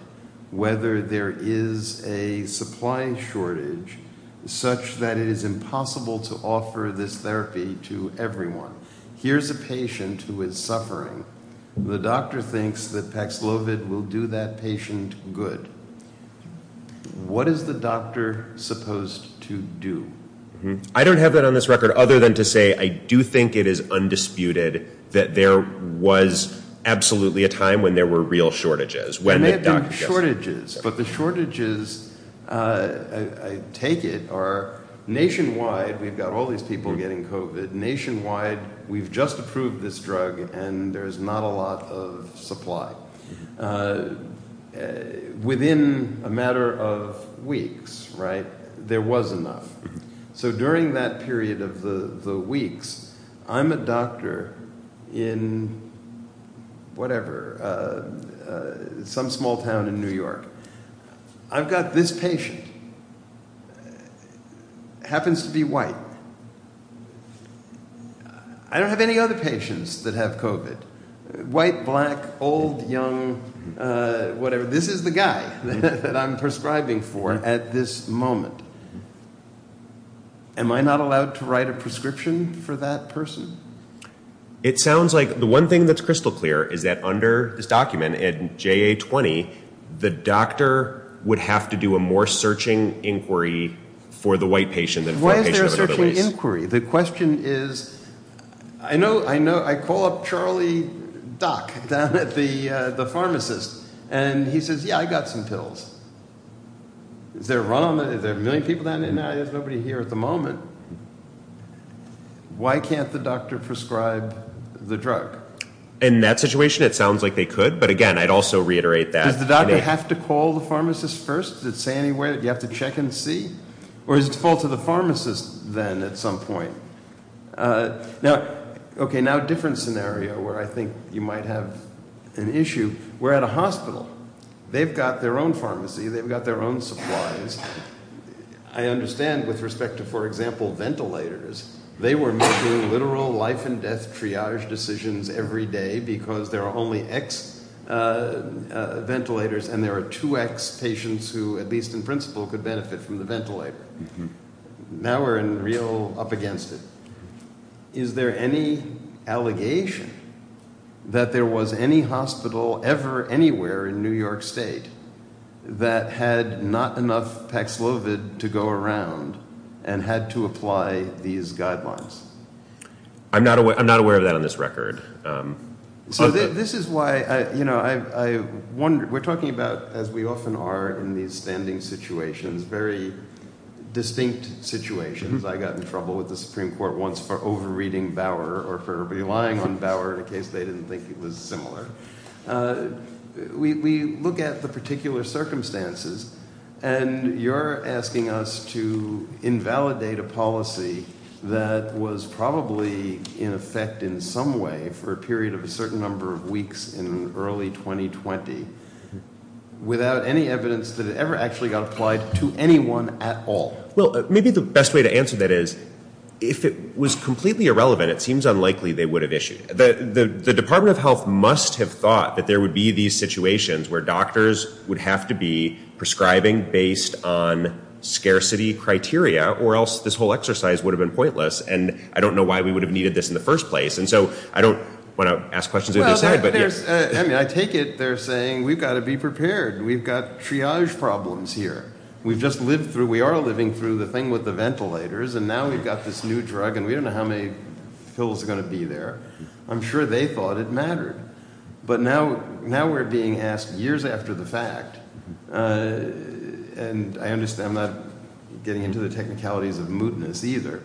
whether there is a supply shortage such that it is impossible to offer this therapy to everyone. Here's a patient who is suffering. The doctor thinks that Paxlovid will do that patient good. What is the doctor supposed to do? I don't have that on this record other than to say I do think it is undisputed that there was absolutely a time when there were real shortages. There may have been shortages, but the shortages, I take it, are nationwide. We've got all these people getting COVID nationwide. We've just approved this drug and there's not a lot of supply. Within a matter of weeks, right, there was enough. So during that period of the weeks, I'm a doctor in whatever, some small town in New York. I've got this patient, happens to be white. I don't have any other patients that have COVID. White, black, old, young, whatever. This is the guy that I'm prescribing for at this moment. Am I not allowed to write a prescription for that person? It sounds like the one thing that's crystal clear is that under this document, in JA-20, the doctor would have to do a more searching inquiry for the white patient. What is their searching inquiry? The question is, I know I call up Charlie Duck down at the pharmacist and he says, yeah, I got some pills. Is there a run on that? Is there a million people down there? No, there's nobody here at the moment. Why can't the doctor prescribe the drug? In that situation, it sounds like they could, but again, I'd also reiterate that. Does the doctor have to call the pharmacist first? Does it say anywhere that you have to check and see? Or is it the fault of the pharmacist then at some point? Okay, now a different scenario where I think you might have an issue. We're at a hospital. They've got their own pharmacy. They've got their own supplies. I understand with respect to, for example, ventilators. They were making literal life and death triage decisions every day because there are only X ventilators and there are two X patients who, at least in principle, could benefit from the ventilator. Now we're in real up against it. Is there any allegation that there was any hospital ever anywhere in New York State that had not enough Pax Lovid to go around and had to apply these guidelines? I'm not aware of that on this record. We're talking about, as we often are in these standing situations, very distinct situations. I got in trouble with the Supreme Court once for over-reading Bauer or for relying on Bauer in case they didn't think it was similar. We look at the particular circumstances, and you're asking us to invalidate a policy that was probably in effect in some way for a period of a certain number of weeks in early 2020 without any evidence that it ever actually got applied to anyone at all. Well, maybe the best way to answer that is if it was completely irrelevant, it seems unlikely they would have issued. The Department of Health must have thought that there would be these situations where doctors would have to be prescribing based on scarcity criteria or else this whole exercise would have been pointless. And I don't know why we would have needed this in the first place. And so I don't want to ask questions. I take it they're saying we've got to be prepared. We've got triage problems here. We are living through the thing with the ventilators, and now we've got this new drug, and we don't know how many pills are going to be there. I'm sure they thought it mattered. But now we're being asked years after the fact, and I understand I'm not getting into the technicalities of mootness either.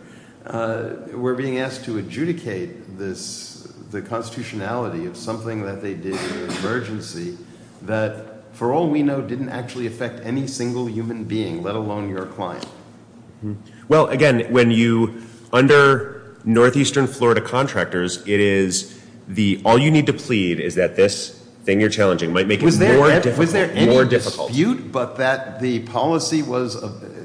We're being asked to adjudicate the constitutionality of something that they did in an emergency that, for all we know, didn't actually affect any single human being, let alone your client. Well, again, when you – under northeastern Florida contractors, it is the – all you need to plead is that this thing you're challenging might make it more difficult. Was there any dispute but that the policy was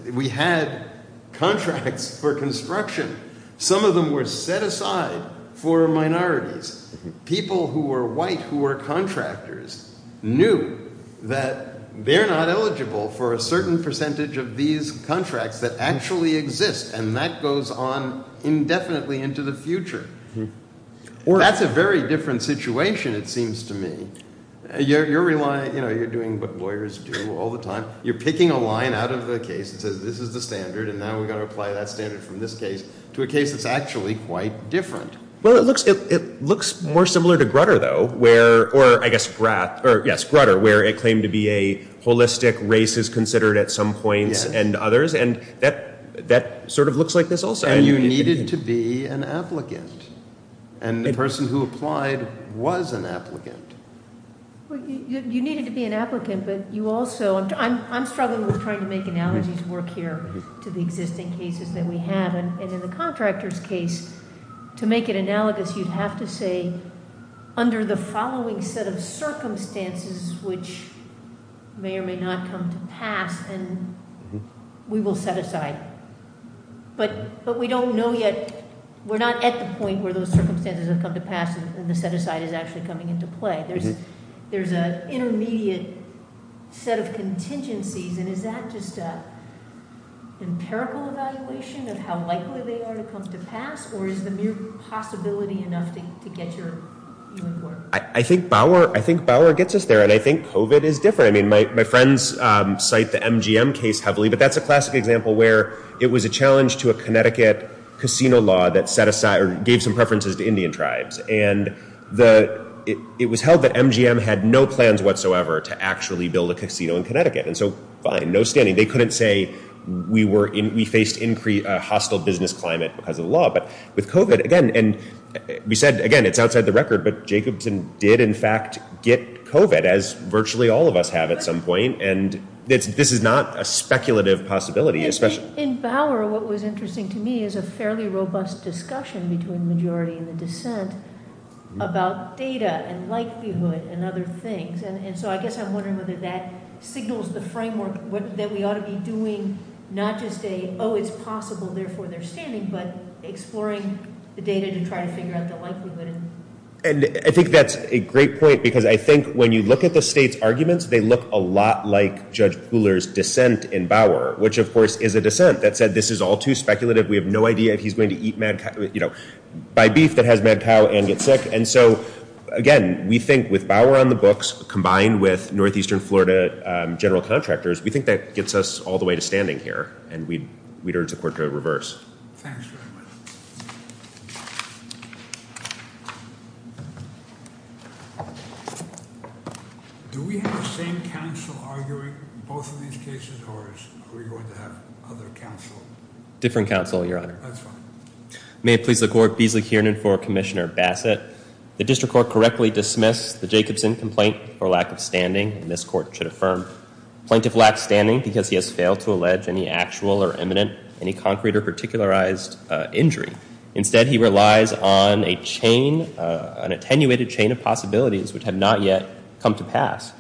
– we had contracts for construction. Some of them were set aside for minorities. People who were white who were contractors knew that they're not eligible for a certain percentage of these contracts that actually exist, and that goes on indefinitely into the future. That's a very different situation, it seems to me. You're relying – you're doing what lawyers do all the time. You're picking a line out of the case that says this is the standard, and now we've got to apply that standard from this case to a case that's actually quite different. Well, it looks more similar to Grutter, though, where – or, I guess, Grath – or, yes, Grutter, where it claimed to be a holistic race is considered at some points and others, and that sort of looks like this also. And you needed to be an applicant, and the person who applied was an applicant. You needed to be an applicant, but you also – I'm struggling with trying to make analogies work here to the existing cases that we have. And in the contractor's case, to make an analogous, you'd have to say, under the following set of circumstances, which may or may not come to pass, and we will set aside. But we don't know yet – we're not at the point where those circumstances have come to pass, and the set-aside is actually coming into play. There's an intermediate set of contingencies, and is that just an empirical evaluation of how likely they are to come to pass, or is the mere possibility enough to get your – I think Bauer gets us there, and I think COVID is different. I mean, my friends cite the MGM case heavily, but that's a classic example where it was a challenge to a Connecticut casino law that set aside – or gave some preferences to Indian tribes. And the – it was held that MGM had no plans whatsoever to actually build a casino in Connecticut. And so, by no standing, they couldn't say we were – we faced hostile business climate because of the law. But with COVID, again – and we said, again, it's outside the record, but Jacobson did, in fact, get COVID, as virtually all of us have at some point. And this is not a speculative possibility. In Bauer, what was interesting to me is a fairly robust discussion between the majority and the dissent about data and likelihood and other things. And so, I guess I'm wondering whether that signals the framework that we ought to be doing, not to say, oh, it's possible, therefore there's standing, but exploring the data to try to figure out the likelihood. And I think that's a great point, because I think when you look at the state's arguments, they look a lot like Judge Cooler's dissent in Bauer, which, of course, is a dissent that said this is all too speculative. We have no idea if he's going to eat – buy beef that has mad cow and get sick. And so, again, we think with Bauer on the books, combined with northeastern Florida general contractors, we think that gets us all the way to standing here, and we'd urge the court to reverse. Thanks very much. Do we have the same counsel arguing both of these cases, or are we going to have other counsel? Different counsel, Your Honor. That's fine. May it please the court, Beasley Kiernan for Commissioner Bassett. The district court correctly dismissed the Jacobson complaint for lack of standing, and this court should affirm plaintiff lacked standing because he has failed to allege any actual or imminent, any concrete or particularized injury. Instead, he relies on a chain, an attenuated chain of possibilities which have not yet come to pass,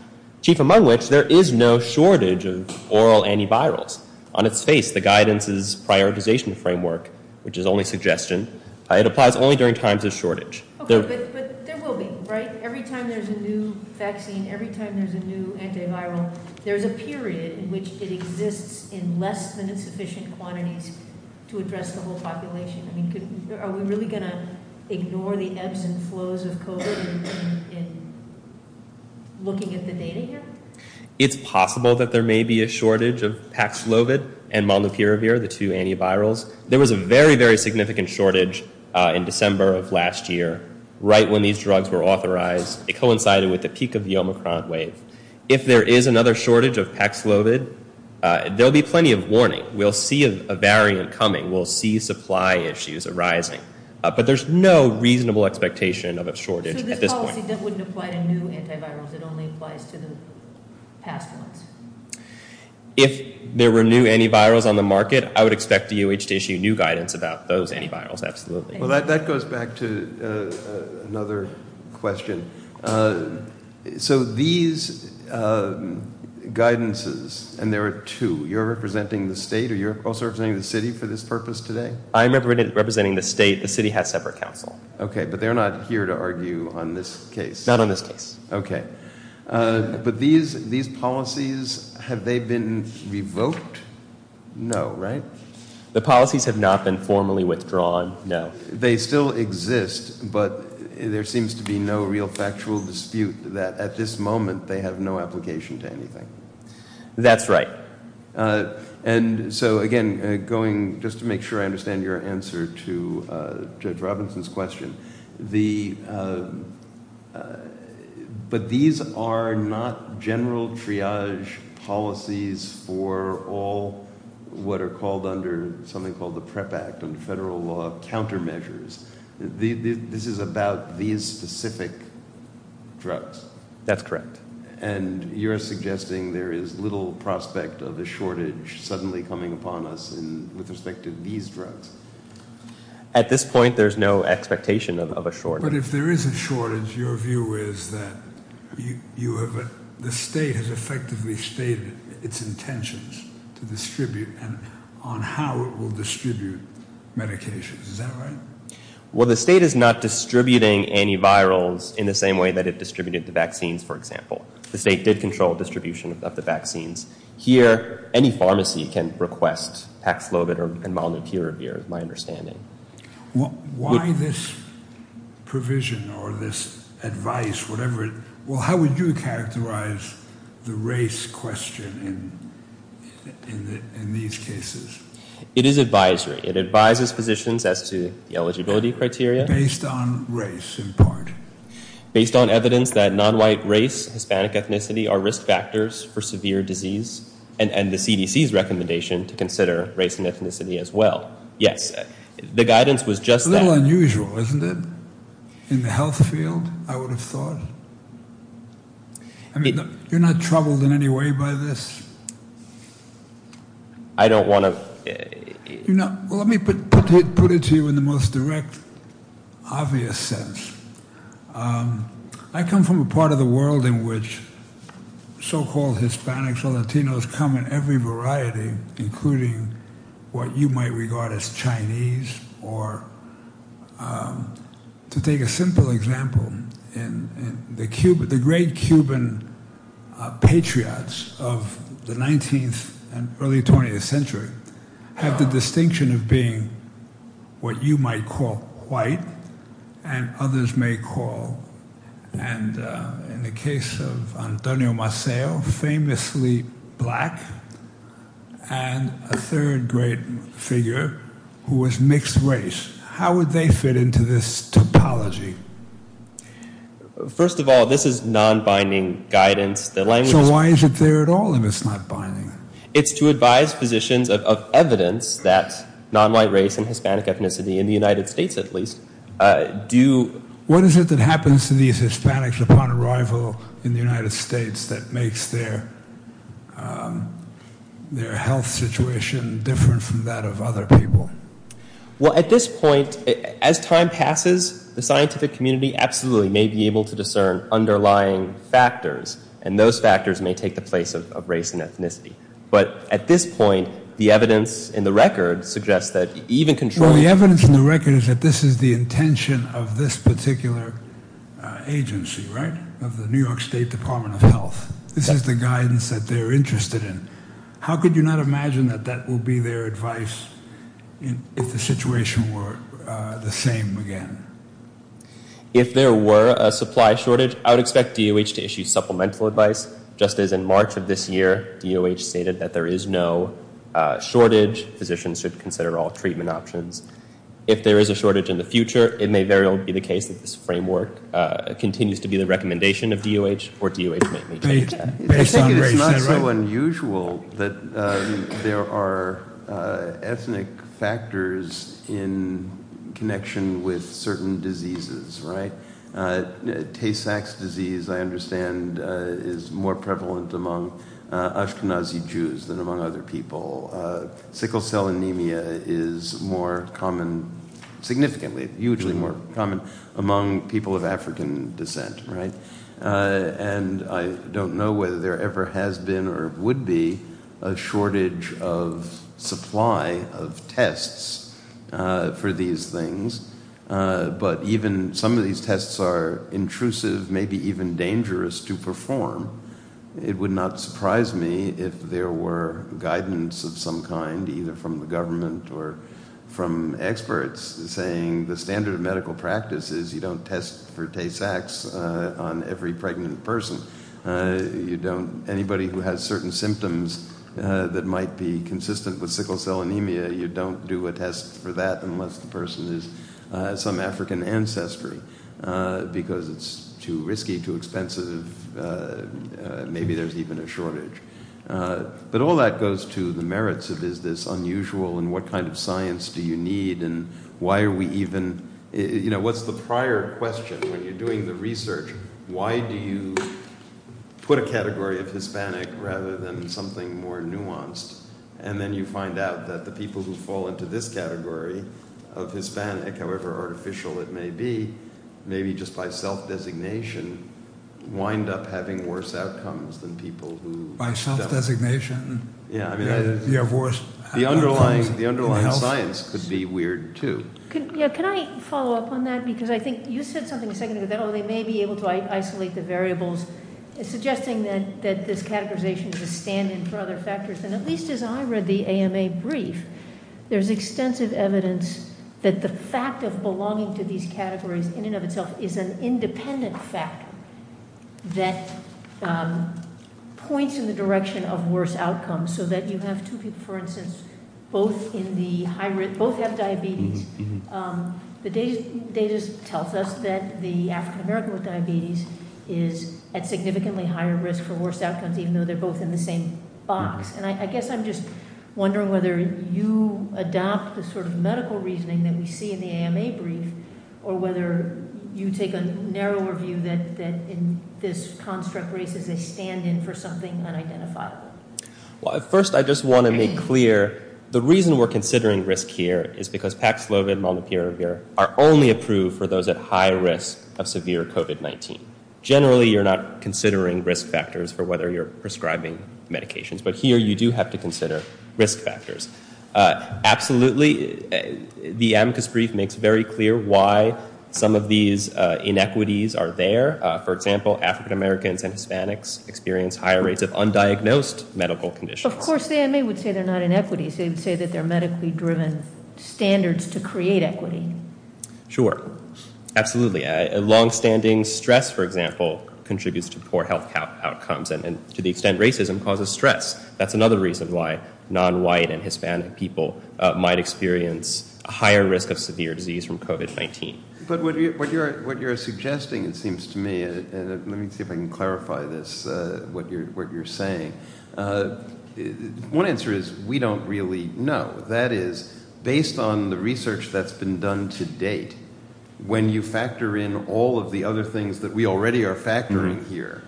chief among which there is no shortage of oral antivirals. On its face, the guidance is prioritization framework, which is only suggestion. It applies only during times of shortage. Okay, but there will be, right? Every time there's a new vaccine, every time there's a new antiviral, there's a period in which it exists in less than a sufficient quantity to address the whole population. I mean, are we really going to ignore the ebbs and flows of COVID in looking at the data here? It's possible that there may be a shortage of Paxlovid and Molnupiravir, the two antivirals. There was a very, very significant shortage in December of last year. Right when these drugs were authorized, it coincided with the peak of the Omicron wave. If there is another shortage of Paxlovid, there will be plenty of warning. We'll see a variant coming. We'll see supply issues arising. But there's no reasonable expectation of a shortage at this point. I don't think that would apply to new antivirals. It only applies to the Paxlovid. If there were new antivirals on the market, I would expect the UH to issue new guidance about those antivirals, absolutely. Well, that goes back to another question. So these guidances, and there are two, you're representing the state or you're also representing the city for this purpose today? I'm representing the state. The city has separate counsel. Okay, but they're not here to argue on this case. Not on this case. Okay. But these policies, have they been revoked? No, right? The policies have not been formally withdrawn, no. They still exist, but there seems to be no real factual dispute that at this moment they have no application to anything. That's right. And so again, just to make sure I understand your answer to Judge Robinson's question, but these are not general triage policies for all what are called under something called the PrEP Act and federal law countermeasures. This is about these specific drugs. That's correct. And you're suggesting there is little prospect of a shortage suddenly coming upon us with respect to these drugs? At this point, there's no expectation of a shortage. But if there is a shortage, your view is that the state has effectively stated its intention to distribute, and on how it will distribute medications. Is that right? Well, the state is not distributing antivirals in the same way that it distributed the vaccines, for example. The state did control distribution of the vaccines. Here, any pharmacy can request tax-loaded or monetary review, is my understanding. Why this provision or this advice, whatever, well, how would you characterize the race question in these cases? It is advisory. It advises physicians as to the eligibility criteria. Based on race, in part. Based on evidence that non-white race, Hispanic ethnicity are risk factors for severe disease, and the CDC's recommendation to consider race and ethnicity as well. Yes. The guidance was just that. A little unusual, isn't it? In the health field, I would have thought. I mean, you're not troubled in any way by this? I don't want to. Let me put it to you in the most direct, obvious sense. I come from a part of the world in which so-called Hispanics or Latinos come in every variety, including what you might regard as Chinese, or to take a simple example, the great Cuban patriots of the 19th and early 20th century have the distinction of being what you might call white and others may call, and in the case of Antonio Maceo, famously black, and a third grade figure who was mixed race. How would they fit into this topology? First of all, this is non-binding guidance. So why is it there at all if it's not binding? It's to advise physicians of evidence that non-white race and Hispanic ethnicity, in the United States at least, do... What is it that happens to these Hispanics upon arrival in the United States that makes their health situation different from that of other people? Well, at this point, as time passes, the scientific community absolutely may be able to discern underlying factors, and those factors may take the place of race and ethnicity. But at this point, the evidence in the record suggests that even controlling... This is a particular agency, right? The New York State Department of Health. This is the guidance that they're interested in. How could you not imagine that that will be their advice if the situation were the same again? If there were a supply shortage, I would expect DOH to issue supplemental advice. Just as in March of this year, DOH stated that there is no shortage. Physicians should consider all treatment options. If there is a shortage in the future, it may very well be the case that this framework continues to be the recommendation of DOH, or DOH may maintain it. I think it's not so unusual that there are ethnic factors in connection with certain diseases, right? Tay-Sachs disease, I understand, is more prevalent among Ashkenazi Jews than among other people. Sickle cell anemia is more common, significantly, hugely more common among people of African descent, right? And I don't know whether there ever has been or would be a shortage of supply of tests for these things. But even some of these tests are intrusive, maybe even dangerous to perform. It would not surprise me if there were guidance of some kind, either from the government or from experts, saying the standard of medical practice is you don't test for Tay-Sachs on every pregnant person. Anybody who has certain symptoms that might be consistent with sickle cell anemia, you don't do a test for that unless the person is some African ancestry because it's too risky, too expensive, maybe there's even a shortage. But all that goes to the merits of this unusual and what kind of science do you need and why are we even... You know, what's the prior question? When you're doing the research, why do you put a category of Hispanic rather than something more nuanced? And then you find out that the people who fall into this category of Hispanic, however artificial it may be, maybe just by self-designation, wind up having worse outcomes than people who... By self-designation? Yeah, I mean, the underlying science could be weird, too. Yeah, can I follow up on that? Because I think you said something a second ago that they may be able to isolate the variables, suggesting that this categorization is expanding for other factors. And at least as I read the ANA brief, there's extensive evidence that the fact of belonging to these categories in and of itself is an independent fact that points in the direction of worse outcomes so that you have two people, for instance, both have diabetes. The data tells us that the African American with diabetes is at significantly higher risk for worse outcomes even though they're both in the same box. And I guess I'm just wondering whether you adopt the sort of medical reasoning that we see in the ANA brief or whether you take a narrower view that in this construct race that they stand in for something unidentifiable. Well, first, I just want to make clear the reason we're considering risk here is because Paxlov and Maldapiravir are only approved for those at high risk of severe COVID-19. Generally, you're not considering risk factors for whether you're prescribing medications, but here you do have to consider risk factors. Absolutely, the ANA brief makes very clear why some of these inequities are there. For example, African Americans and Hispanics experience higher rates of undiagnosed medical conditions. Of course, the ANA would say they're not inequities. They would say that they're medically-driven standards to create equity. Sure, absolutely. Long-standing stress, for example, contributes to poor health outcomes and to the extent racism causes stress. That's another reason why non-white and Hispanic people might experience a higher risk of severe disease from COVID-19. But what you're suggesting, it seems to me, and let me see if I can clarify this, what you're saying, one answer is we don't really know. That is, based on the research that's been done to date, when you factor in all of the other things that we already are factoring here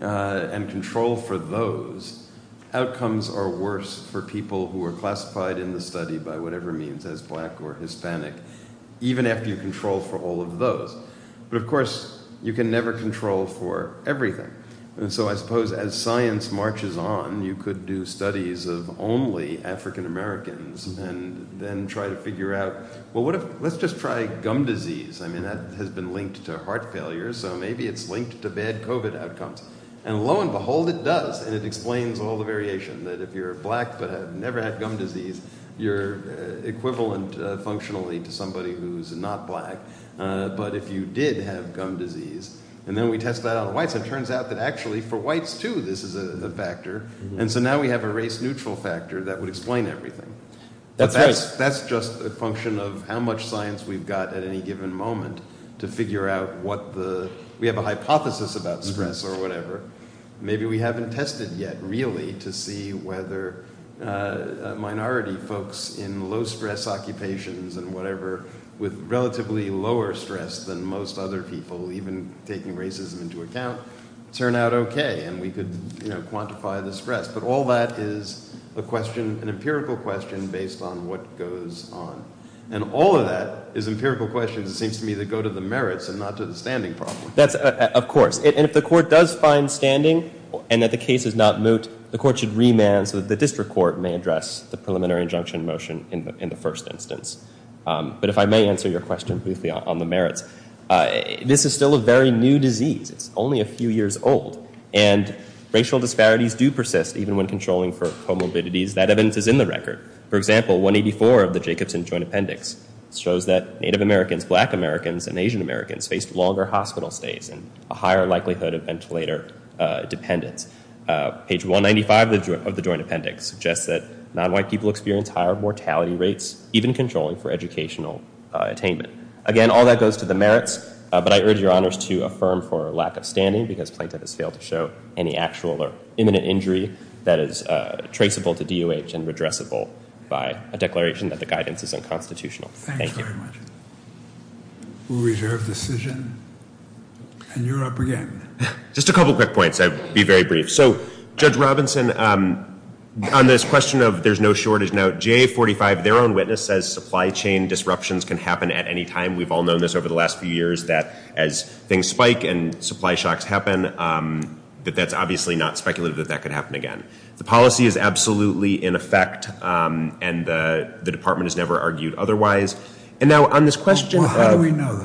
and control for those, outcomes are worse for people who are classified in the study by whatever means, as black or Hispanic, even if you control for all of those. But of course, you can never control for everything. And so I suppose as science marches on, you could do studies of only African Americans and then try to figure out, well, let's just try gum disease. I mean, that has been linked to heart failure, so maybe it's linked to bad COVID outcomes. And lo and behold, it does. And it explains all the variation, that if you're black but have never had gum disease, you're equivalent functionally to somebody who's not black. But if you did have gum disease, and then we test that on whites, it turns out that actually for whites, too, this is a factor. And so now we have a race-neutral factor that would explain everything. That's just a function of how much science we've got at any given moment to figure out what the... We have a hypothesis about stress or whatever. Maybe we haven't tested yet, really, to see whether minority folks in low-stress occupations and whatever with relatively lower stress than most other people, even taking racism into account, turn out okay, and we could quantify the stress. But all that is an empirical question based on what goes on. And all of that is an empirical question that seems to me to go to the merits and not to the standing problem. Of course. And if the court does find standing and that the case is not moot, the court should remand so that the district court may address the preliminary injunction motion in the first instance. But if I may answer your question briefly on the merits, this is still a very new disease. It's only a few years old. And racial disparities do persist even when controlling for comorbidities. That evidence is in the record. For example, 184 of the Jacobson Joint Appendix shows that Native Americans, Black Americans, and Asian Americans face longer hospital stays and a higher likelihood of ventilator dependence. Page 195 of the Joint Appendix suggests that nonwhite people experience higher mortality rates even controlling for educational attainment. Again, all that goes to the merits, but I urge your honors to affirm for lack of standing because plaintiff has failed to show any actual or imminent injury that is traceable to DOH and redressable by a declaration that the guidance is unconstitutional. Thank you. Thank you very much. Full reserve decision. And you're up again. Just a couple quick points. I'll be very brief. So Judge Robinson, on this question of there's no shortage note, GA45, their own witness, says supply chain disruptions can happen at any time. We've all known this over the last few years that as things spike and supply shocks happen, that that's obviously not speculative that that could happen again. The policy is absolutely in effect and the department has never argued otherwise. And now on this question of... How do we know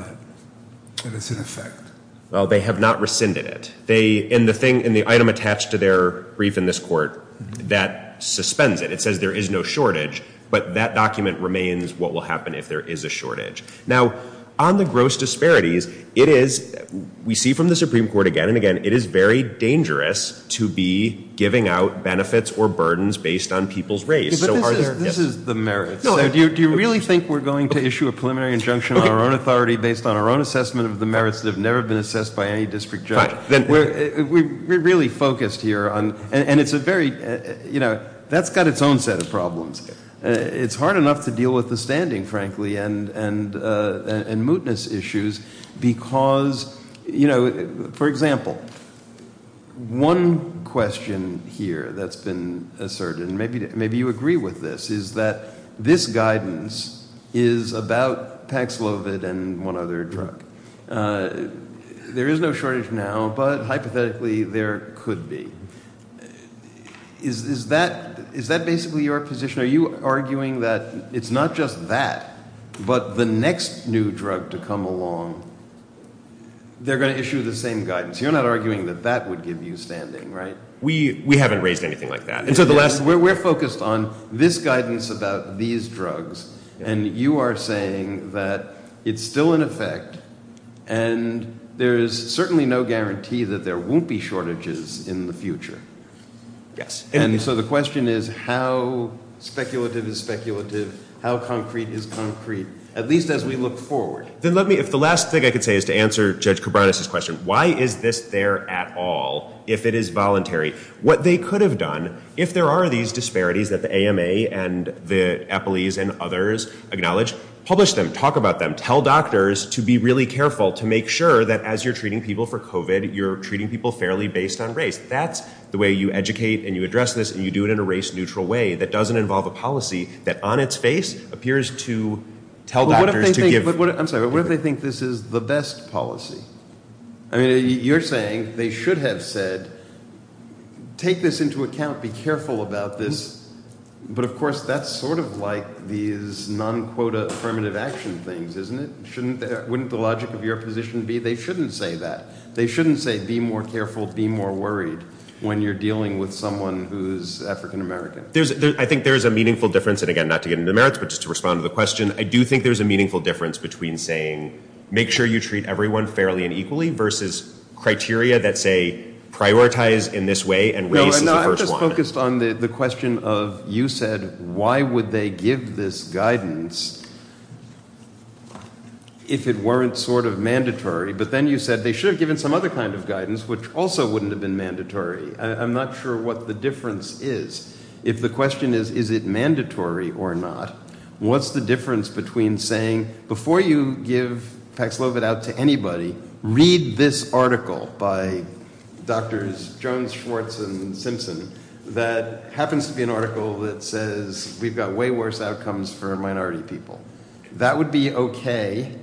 that it's in effect? Well, they have not rescinded it. And the item attached to their brief in this court that suspends it. It says there is no shortage, but that document remains what will happen if there is a shortage. Now, on the gross disparities, it is, we see from the Supreme Court again and again, it is very dangerous to be giving out benefits or burdens based on people's rates. This is the merits. Do you really think we're going to issue a preliminary injunction on our own authority based on our own assessment of the merits that have never been assessed by any district judge? We're really focused here on... And it's a very, you know, that's got its own set of problems. It's hard enough to deal with the standing, frankly, and mootness issues because, you know, for example, one question here that's been asserted, and maybe you agree with this, is that this guidance is about paxlovid and one other drug. There is no shortage now, but hypothetically there could be. Is that basically your position? Are you arguing that it's not just that, but the next new drug to come along, they're going to issue the same guidance? You're not arguing that that would give you standing, right? We haven't raised anything like that. We're focused on this guidance about these drugs, and you are saying that it's still in effect and there's certainly no guarantee that there won't be shortages in the future. Yes. And so the question is how speculative is speculative, how concrete is concrete, at least as we look forward. Then let me, if the last thing I could say is to answer Judge Koubranis' question, why is this there at all if it is voluntary? What they could have done, if there are these disparities that the AMA and the EPILES and others acknowledge, publish them, talk about them, tell doctors to be really careful to make sure that as you're treating people for COVID, you're treating people fairly based on race. That's the way you educate and you address this, and you do it in a race-neutral way that doesn't involve a policy that on its face appears to tell doctors to give... I'm sorry, what if they think this is the best policy? I mean, you're saying they should have said, take this into account, be careful about this. But of course, that's sort of like these non-quota affirmative action things, isn't it? Wouldn't the logic of your position be they shouldn't say that? They shouldn't say be more careful, be more worried when you're dealing with someone who's African-American. I think there's a meaningful difference, and again, not to get into the numerics, but just to respond to the question. I do think there's a meaningful difference between saying make sure you treat everyone fairly and equally versus criteria that say prioritize in this way and race is the first one. I'm just focused on the question of you said why would they give this guidance if it weren't sort of mandatory? But then you said they should have given some other kind of guidance, which also wouldn't have been mandatory. I'm not sure what the difference is. If the question is, is it mandatory or not, what's the difference between saying before you give Pax Lovett out to anybody, read this article by Drs. Jones, Schwartz, and Simpson that happens to be an article that says we've got way worse outcomes for minority people. That would be okay,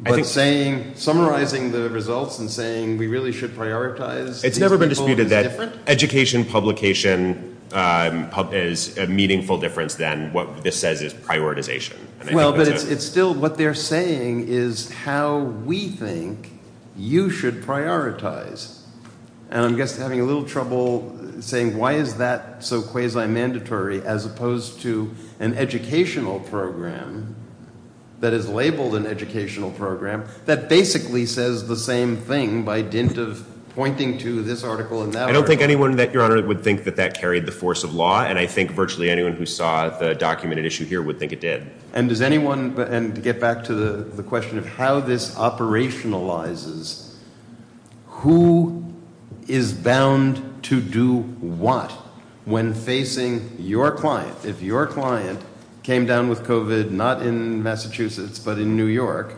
but summarizing the results and saying we really should prioritize these people is a difference? It's never been disputed that education, publication is a meaningful difference than what this says is prioritization. Well, but it's still what they're saying is how we think you should prioritize. And I'm just having a little trouble saying why is that so quasi-mandatory as opposed to an educational program that is labeled an educational program that basically says the same thing by just pointing to this article and that article. I don't think anyone, Your Honor, would think that that carried the force of law, and I think virtually anyone who saw the documented issue here would think it did. And does anyone, and to get back to the question of how this operationalizes, who is bound to do what when facing your client? If your client came down with COVID not in Massachusetts but in New York,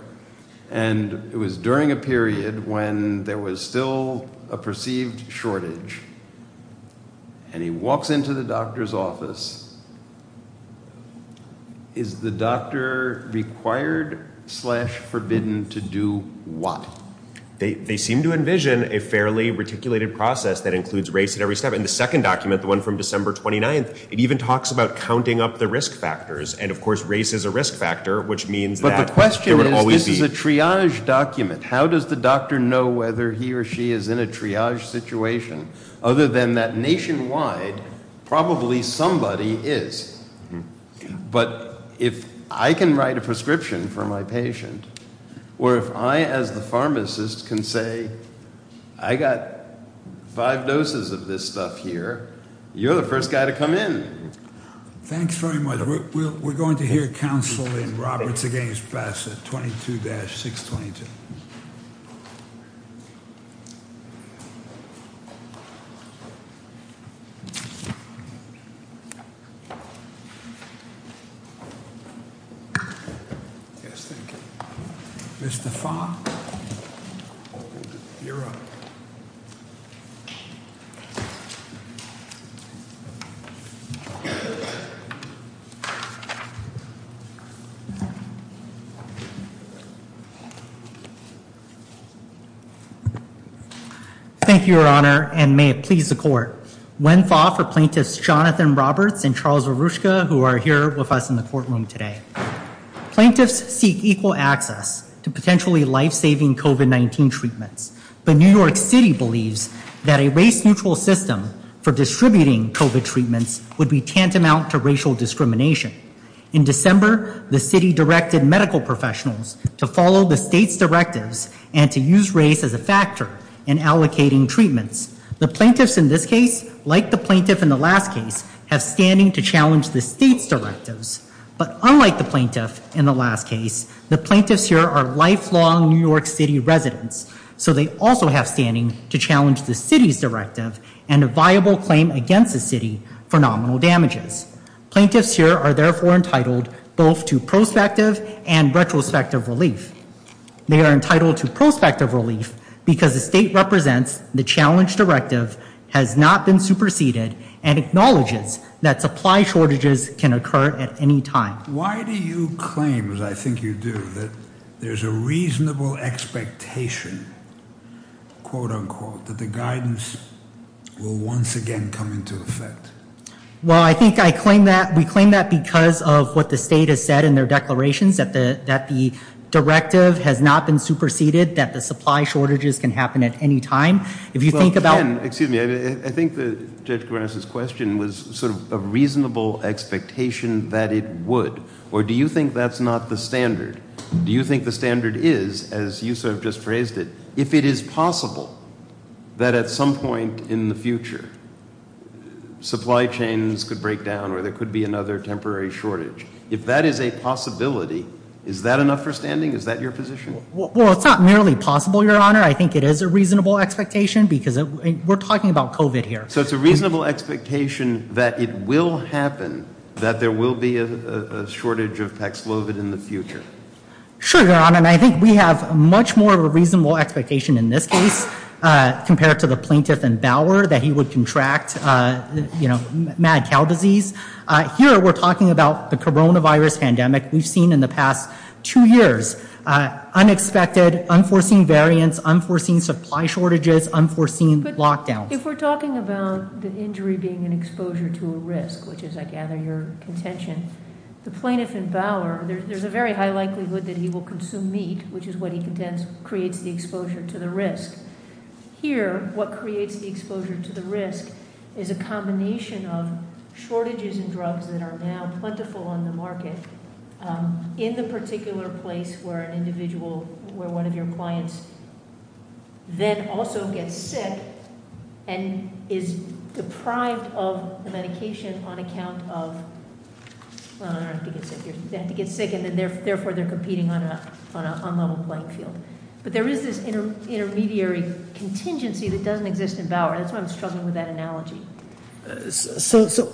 and it was during a period when there was still a perceived shortage, and he walks into the doctor's office, is the doctor required slash forbidden to do what? They seem to envision a fairly reticulated process that includes race at every step. In the second document, the one from December 29th, it even talks about counting up the risk factors, and of course race is a risk factor, which means that it will always be. But the question is, this is a triage document. How does the doctor know whether he or she is in a triage situation? Other than that nationwide, probably somebody is. But if I can write a prescription for my patient, or if I as the pharmacist can say, I got five doses of this stuff here, you're the first guy to come in. Thanks very much. We're going to hear counsel in Roberts against Bassett, 22-622. Here's the font. Thank you, Your Honor, and may it please the court. One thought for plaintiffs Jonathan Roberts and Charles Arushka, who are here with us in the courtroom today. Plaintiffs seek equal access to potentially life-saving COVID-19 treatment. But New York City believes that a race-neutral system for distributing COVID treatments would be tantamount to racial discrimination. In December, the city directed medical professionals to follow the state's directives and to use race as a factor in allocating treatments. The plaintiffs in this case, like the plaintiff in the last case, have standing to challenge the state's directives. But unlike the plaintiff in the last case, the plaintiffs here are lifelong New York City residents. So they also have standing to challenge the city's directive and a viable claim against the city for nominal damages. Plaintiffs here are therefore entitled both to prospective and retrospective relief. They are entitled to prospective relief because the state represents the challenge directive, has not been superseded, and acknowledges that supply shortages can occur at any time. Why do you claim, as I think you do, that there's a reasonable expectation, quote-unquote, that the guidance will once again come into effect? Well, I think we claim that because of what the state has said in their declarations, that the directive has not been superseded, that the supply shortages can happen at any time. If you think about it... Well, again, excuse me, I think that Judge Garance's question was sort of a reasonable expectation that it would. Or do you think that's not the standard? Do you think the standard is, as you sort of just phrased it, if it is possible that at some point in the future supply chains could break down or there could be another temporary shortage, if that is a possibility, is that enough for standing? Is that your position? Well, it's not merely possible, Your Honor. I think it is a reasonable expectation because we're talking about COVID here. So, it's a reasonable expectation that it will happen, that there will be a shortage of Tax-COVID in the future? Sure, Your Honor, and I think we have much more of a reasonable expectation in this case compared to the plaintiffs in Bauer that he would contract, you know, mad cow disease. Here, we're talking about the coronavirus pandemic we've seen in the past two years. Unexpected, unforeseen variants, unforeseen supply shortages, unforeseen lockdowns. If we're talking about the injury being an exposure to a risk, which is, I gather, your contention, the plaintiff in Bauer, there's a very high likelihood that he will consume meat, which is what he contends creates the exposure to the risk. Here, what creates the exposure to the risk is a combination of shortages in drugs that are now plentiful on the market in the particular place where an individual, where one of your clients then also gets sick and is deprived of the medication on account of... I don't know if you get sick here. They have to get sick, and therefore they're competing on a level playing field. But there is this intermediary contingency that doesn't exist in Bauer. That's why I'm struggling with that analogy. So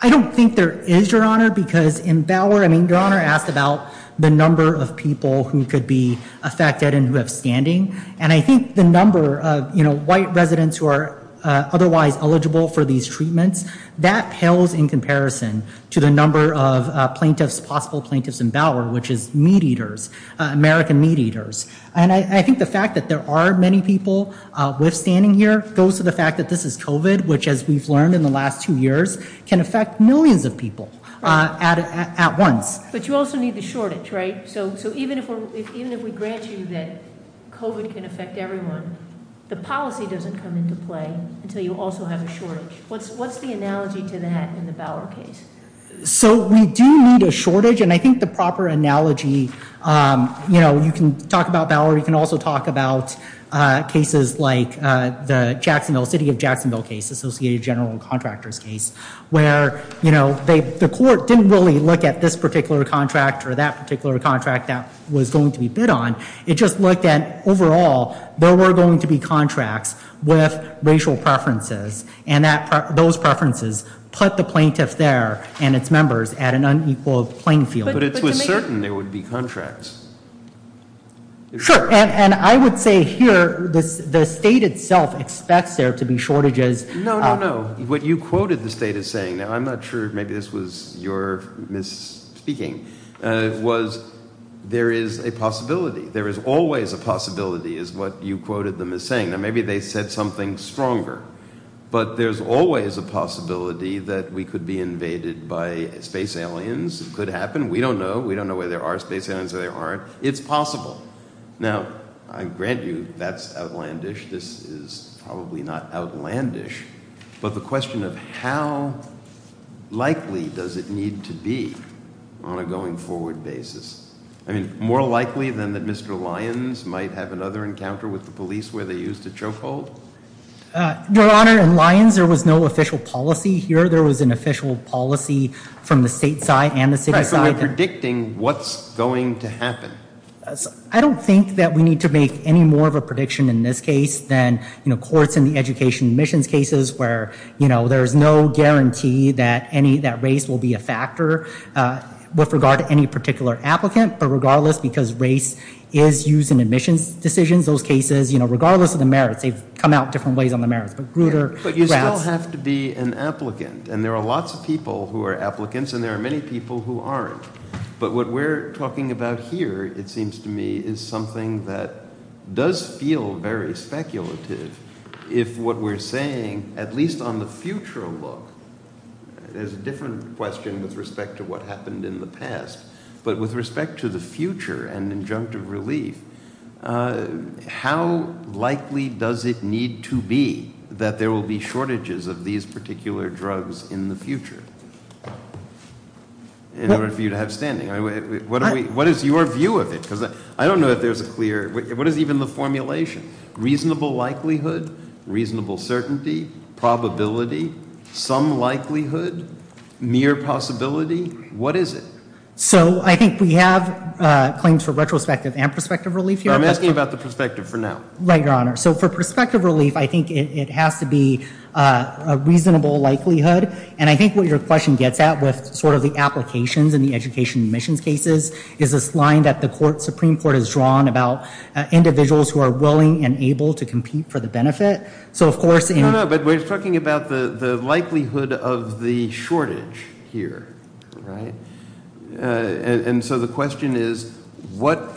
I don't think there is, Your Honor, because in Bauer, I mean, Your Honor asked about the number of people who could be affected and who have standing, and I think the number of, you know, white residents who are otherwise eligible for these treatments, that tells in comparison to the number of plaintiffs, possible plaintiffs in Bauer, which is meat eaters, American meat eaters. And I think the fact that there are many people with standing here goes to the fact that this is COVID, which, as we've learned in the last two years, can affect millions of people at once. But you also need the shortage, right? So even if we grant you that COVID can affect everyone, the policy doesn't come into play until you also have a shortage. What's the analogy to that in the Bauer case? So we do need a shortage, and I think the proper analogy, you know, you can talk about Bauer. You can also talk about cases like the Jacksonville, City of Jacksonville case, Associated General Contractors case, where, you know, the court didn't really look at this particular contract or that particular contract that was going to be bid on. It just looked at, overall, there were going to be contracts with racial preferences, and those preferences put the plaintiff there and its members at an unequal playing field. But it was certain there would be contracts. Sure, and I would say here that the state itself expects there to be shortages. No, no, no. What you quoted the state as saying, and I'm not sure if maybe this was your misspeaking, was there is a possibility. There is always a possibility, is what you quoted them as saying. Now, maybe they said something stronger, but there's always a possibility that we could be invaded by space aliens. It could happen. We don't know. We don't know whether there are space aliens or there aren't. It's possible. Now, I grant you that's outlandish. This is probably not outlandish, but the question of how likely does it need to be on a going-forward basis. I mean, more likely than that Mr. Lyons might have another encounter with the police where they used a chokehold? Your Honor, in Lyons, there was no official policy here. There was an official policy from the state side and the city side. So you're predicting what's going to happen. I don't think that we need to make any more of a prediction in this case than, of course, in the education admissions cases where there's no guarantee that race will be a factor with regard to any particular applicant, but regardless, because race is used in admissions decisions, those cases, regardless of the merits, they come out different ways on the merits. But you still have to be an applicant, and there are lots of people who are applicants, and there are many people who aren't. But what we're talking about here, it seems to me, is something that does feel very speculative if what we're saying, at least on the future look... There's a different question with respect to what happened in the past, but with respect to the future and injunctive relief, how likely does it need to be that there will be shortages of these particular drugs in the future in order for you to have standing? What is your view of it? Because I don't know if there's a clear... What is even the formulation? Reasonable likelihood? Reasonable certainty? Probability? Some likelihood? Mere possibility? What is it? So I think we have claims for retrospective and prospective relief here. I'm asking about the prospective for now. Right, Your Honor. So for prospective relief, I think it has to be a reasonable likelihood. And I think what your question gets at with sort of the applications in the education and admissions cases is this line that the Supreme Court has drawn about individuals who are willing and able to compete for the benefit. No, no, but we're talking about the likelihood of the shortage here. Right. And so the question is what...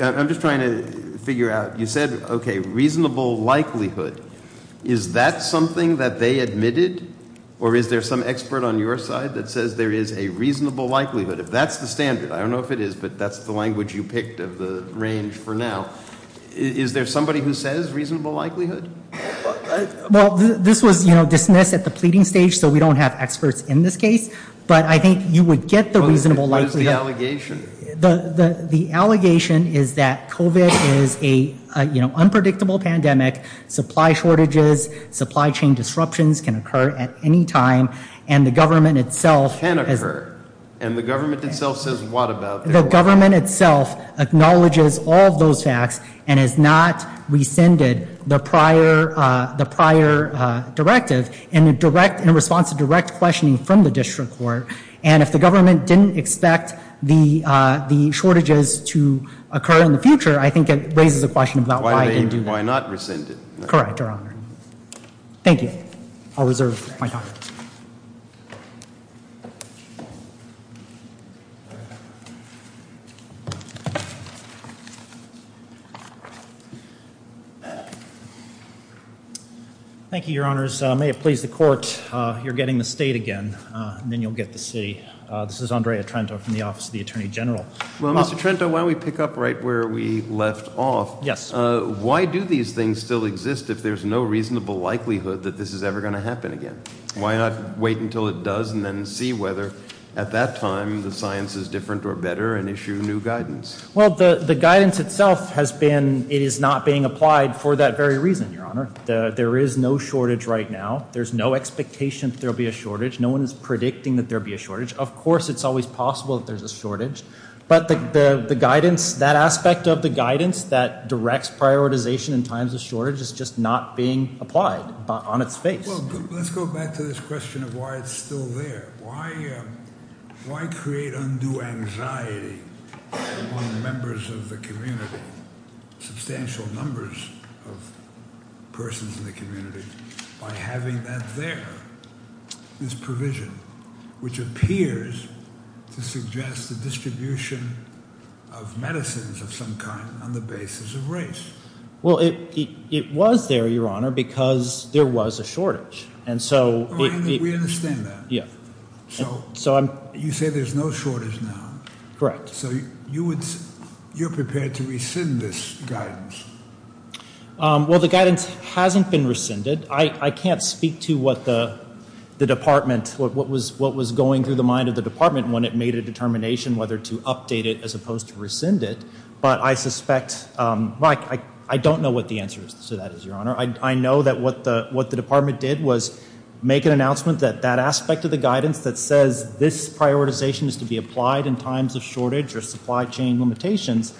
I'm just trying to figure out... You said, okay, reasonable likelihood. Is that something that they admitted? Or is there some expert on your side that says there is a reasonable likelihood? If that's the standard, I don't know if it is, but that's the language you picked of the range for now. Is there somebody who says reasonable likelihood? Well, this was dismissed at the pleading stage, so we don't have experts in this case. But I think you would get the reasonable likelihood. What is the allegation? The allegation is that COVID is an unpredictable pandemic. Supply shortages, supply chain disruptions can occur at any time. And the government itself... Can occur. And the government itself says what about it? The government itself acknowledges all those acts and has not rescinded the prior directive in response to direct questioning from the district court. And if the government didn't expect the shortages to occur in the future, I think it raises a question about... Why not rescind it? Correct, Your Honor. Thank you. I'll reserve my time. Thank you, Your Honors. I may have pleased the court. You're getting the state again, and then you'll get the city. This is Andre Atrenzo from the Office of the Attorney General. Well, Mr. Atrenzo, why don't we pick up right where we left off? Yes. Why do these things still exist if there's no reasonable likelihood that this is ever going to happen again? Why not wait until it does and then see whether at that time the science is different or better and issue new guidance? Well, the guidance itself has been... It is not being applied for that very reason, Your Honor. There is no shortage right now. There's no expectation there'll be a shortage. No one's predicting that there'll be a shortage. Of course it's always possible that there's a shortage, but the guidance... That aspect of the guidance that directs prioritization in times of shortage is just not being applied on its face. Well, let's go back to this question of why it's still there. Why create undue anxiety among members of the community, substantial numbers of persons in the community, by having that there? That there is provision which appears to suggest the distribution of medicines of some kind on the basis of race. Well, it was there, Your Honor, because there was a shortage. And so... We understand that. Yeah. So you say there's no shortage now. Correct. So you're prepared to rescind this guidance? Well, the guidance hasn't been rescinded. I can't speak to what the department... what was going through the mind of the department when it made a determination whether to update it as opposed to rescind it. But I suspect... I don't know what the answer to that is, Your Honor. I know that what the department did was make an announcement that that aspect of the guidance that says this prioritization is to be applied in times of shortage or supply chain limitations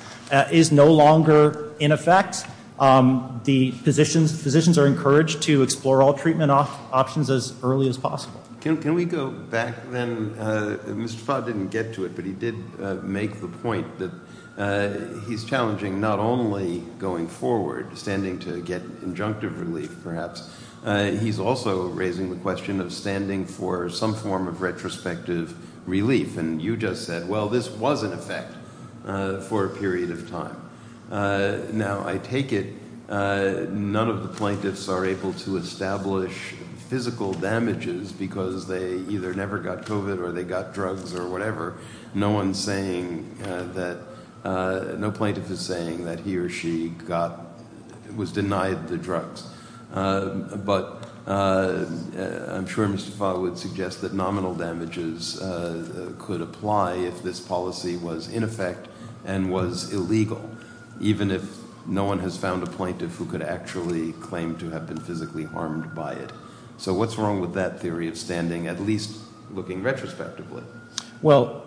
is no longer in effect. The physicians are encouraged to explore all treatment options as early as possible. Can we go back, then? Mr. Fott didn't get to it, but he did make the point that he's challenging not only going forward, standing to get injunctive relief, perhaps, he's also raising the question of standing for some form of retrospective relief. And you just said, well, this was in effect for a period of time. Now, I take it none of the plaintiffs are able to establish physical damages because they either never got COVID or they got drugs or whatever. No one's saying that... No plaintiff is saying that he or she got... was denied the drugs. But I'm sure Mr. Fott would suggest that nominal damages could apply if this policy was in effect and was illegal, even if no one has found a plaintiff who could actually claim to have been physically harmed by it. So what's wrong with that theory of standing at least looking retrospectively? Well,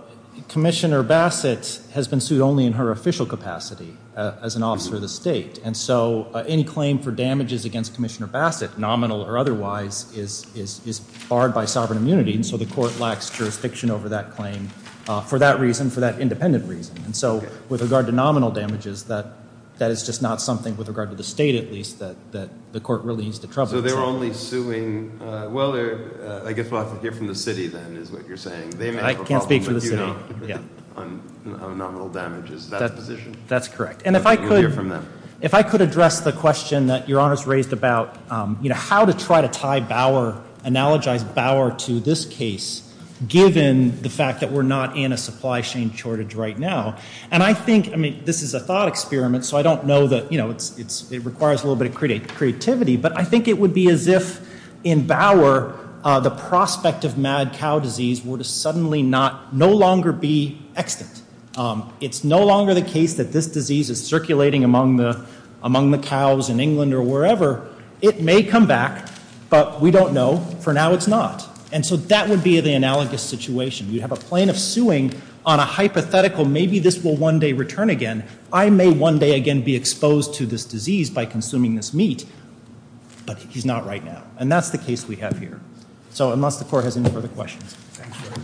Commissioner Bassett has been sued only in her official capacity as an officer of the state, and so any claim for damages against Commissioner Bassett, nominal or otherwise, is barred by sovereign immunity, and so the court lacks jurisdiction over that claim for that reason, for that independent reason. And so with regard to nominal damages, that is just not something, with regard to the state at least, that the court really needs to trouble. So they're only suing... Well, I guess I'll have to hear from the city, then, is what you're saying. I can't speak for the city. On nominal damages. That's correct. And if I could address the question that Your Honor's raised about how to try to tie Bauer, analogize Bauer to this case, given the fact that we're not in a supply chain shortage right now. And I think, I mean, this is a thought experiment, so I don't know that, you know, it requires a little bit of creativity, but I think it would be as if in Bauer the prospect of mad cow disease would suddenly no longer be extant. It's no longer the case that this disease is circulating among the cows in England or wherever. It may come back, but we don't know. For now it's not. And so that would be the analogous situation. You have a plaintiff suing on a hypothetical maybe this will one day return again. I may one day again be exposed to this disease by consuming this meat, but he's not right now. And that's the case we have here. So unless the court has any further questions. Thank you.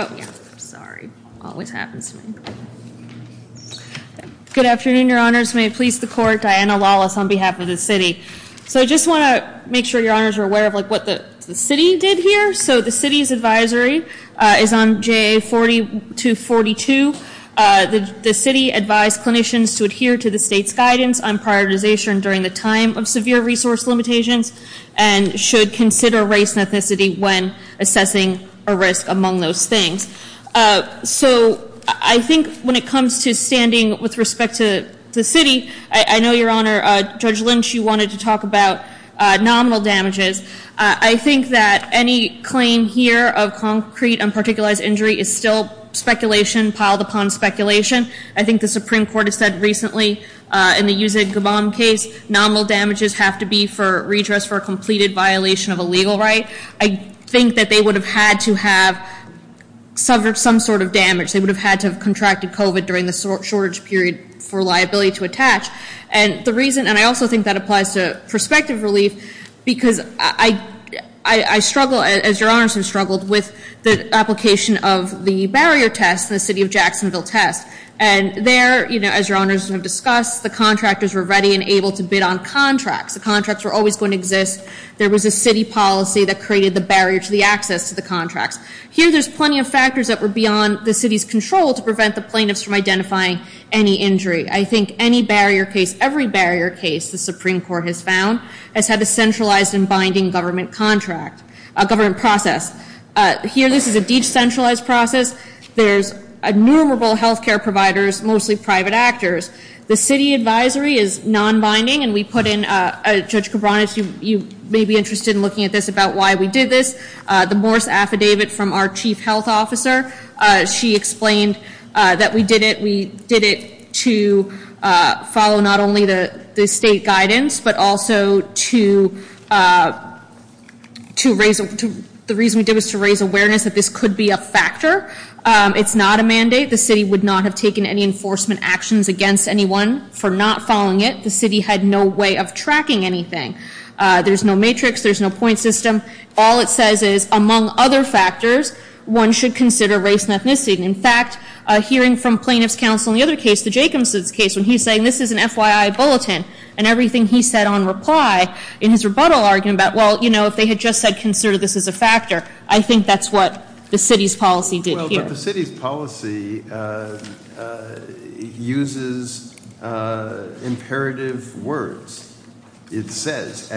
Oh, yeah. Sorry. Always happens to me. Good afternoon, Your Honors. May I please support Diana Lawless on behalf of the city. So I just want to make sure Your Honors are aware of what the city did here. So the city's advisory is on JA 4242. The city advised clinicians to adhere to the state's guidance on prioritization during the time of severe resource limitations and should consider race and ethnicity when assessing a risk among those things. So I think when it comes to standing with respect to the city, I know, Your Honor, Judge Lynch, you wanted to talk about nominal damages. I think that any claim here of concrete and particular injury is still speculation piled upon speculation. I think the Supreme Court has said recently in the Yusef Gabon case, nominal damages have to be for redress for a completed violation of a legal right. I think that they would have had to have suffered some sort of damage. They would have had to have contracted COVID during the shortage period for liability to attach. And I also think that applies to prospective relief because I struggle, as Your Honors have struggled, with the application of the barrier test in the city of Jacksonville test. And there, as Your Honors have discussed, the contractors were ready and able to bid on contracts. The contracts were always going to exist. There was a city policy that created the barrier to the access to the contracts. Here, there's plenty of factors that were beyond the city's control to prevent the plaintiffs from identifying any injury. I think any barrier case, every barrier case, the Supreme Court has found, has had a centralized and binding government process. Here, this is a decentralized process. There's innumerable healthcare providers, mostly private actors. The city advisory is non-binding, and we put in, Judge Cabranes, you may be interested in looking at this about why we did this. The Morris Affidavit from our chief health officer, she explained that we did it, we did it to follow not only the state guidance, but also to raise, the reason we did it was to raise awareness that this could be a factor. It's not a mandate. The city would not have taken any enforcement actions against anyone for not following it. The city had no way of tracking anything. There's no matrix. There's no point system. All it says is, among other factors, one should consider race and ethnicity. In fact, hearing from plaintiff's counsel in the other case, the Jacobson case, when he said this is an FYI bulletin, and everything he said on reply, in his rebuttal argument about, well, you know, if they had just said consider this as a factor, I think that's what the city's policy did here. The city's policy uses imperative words. It says...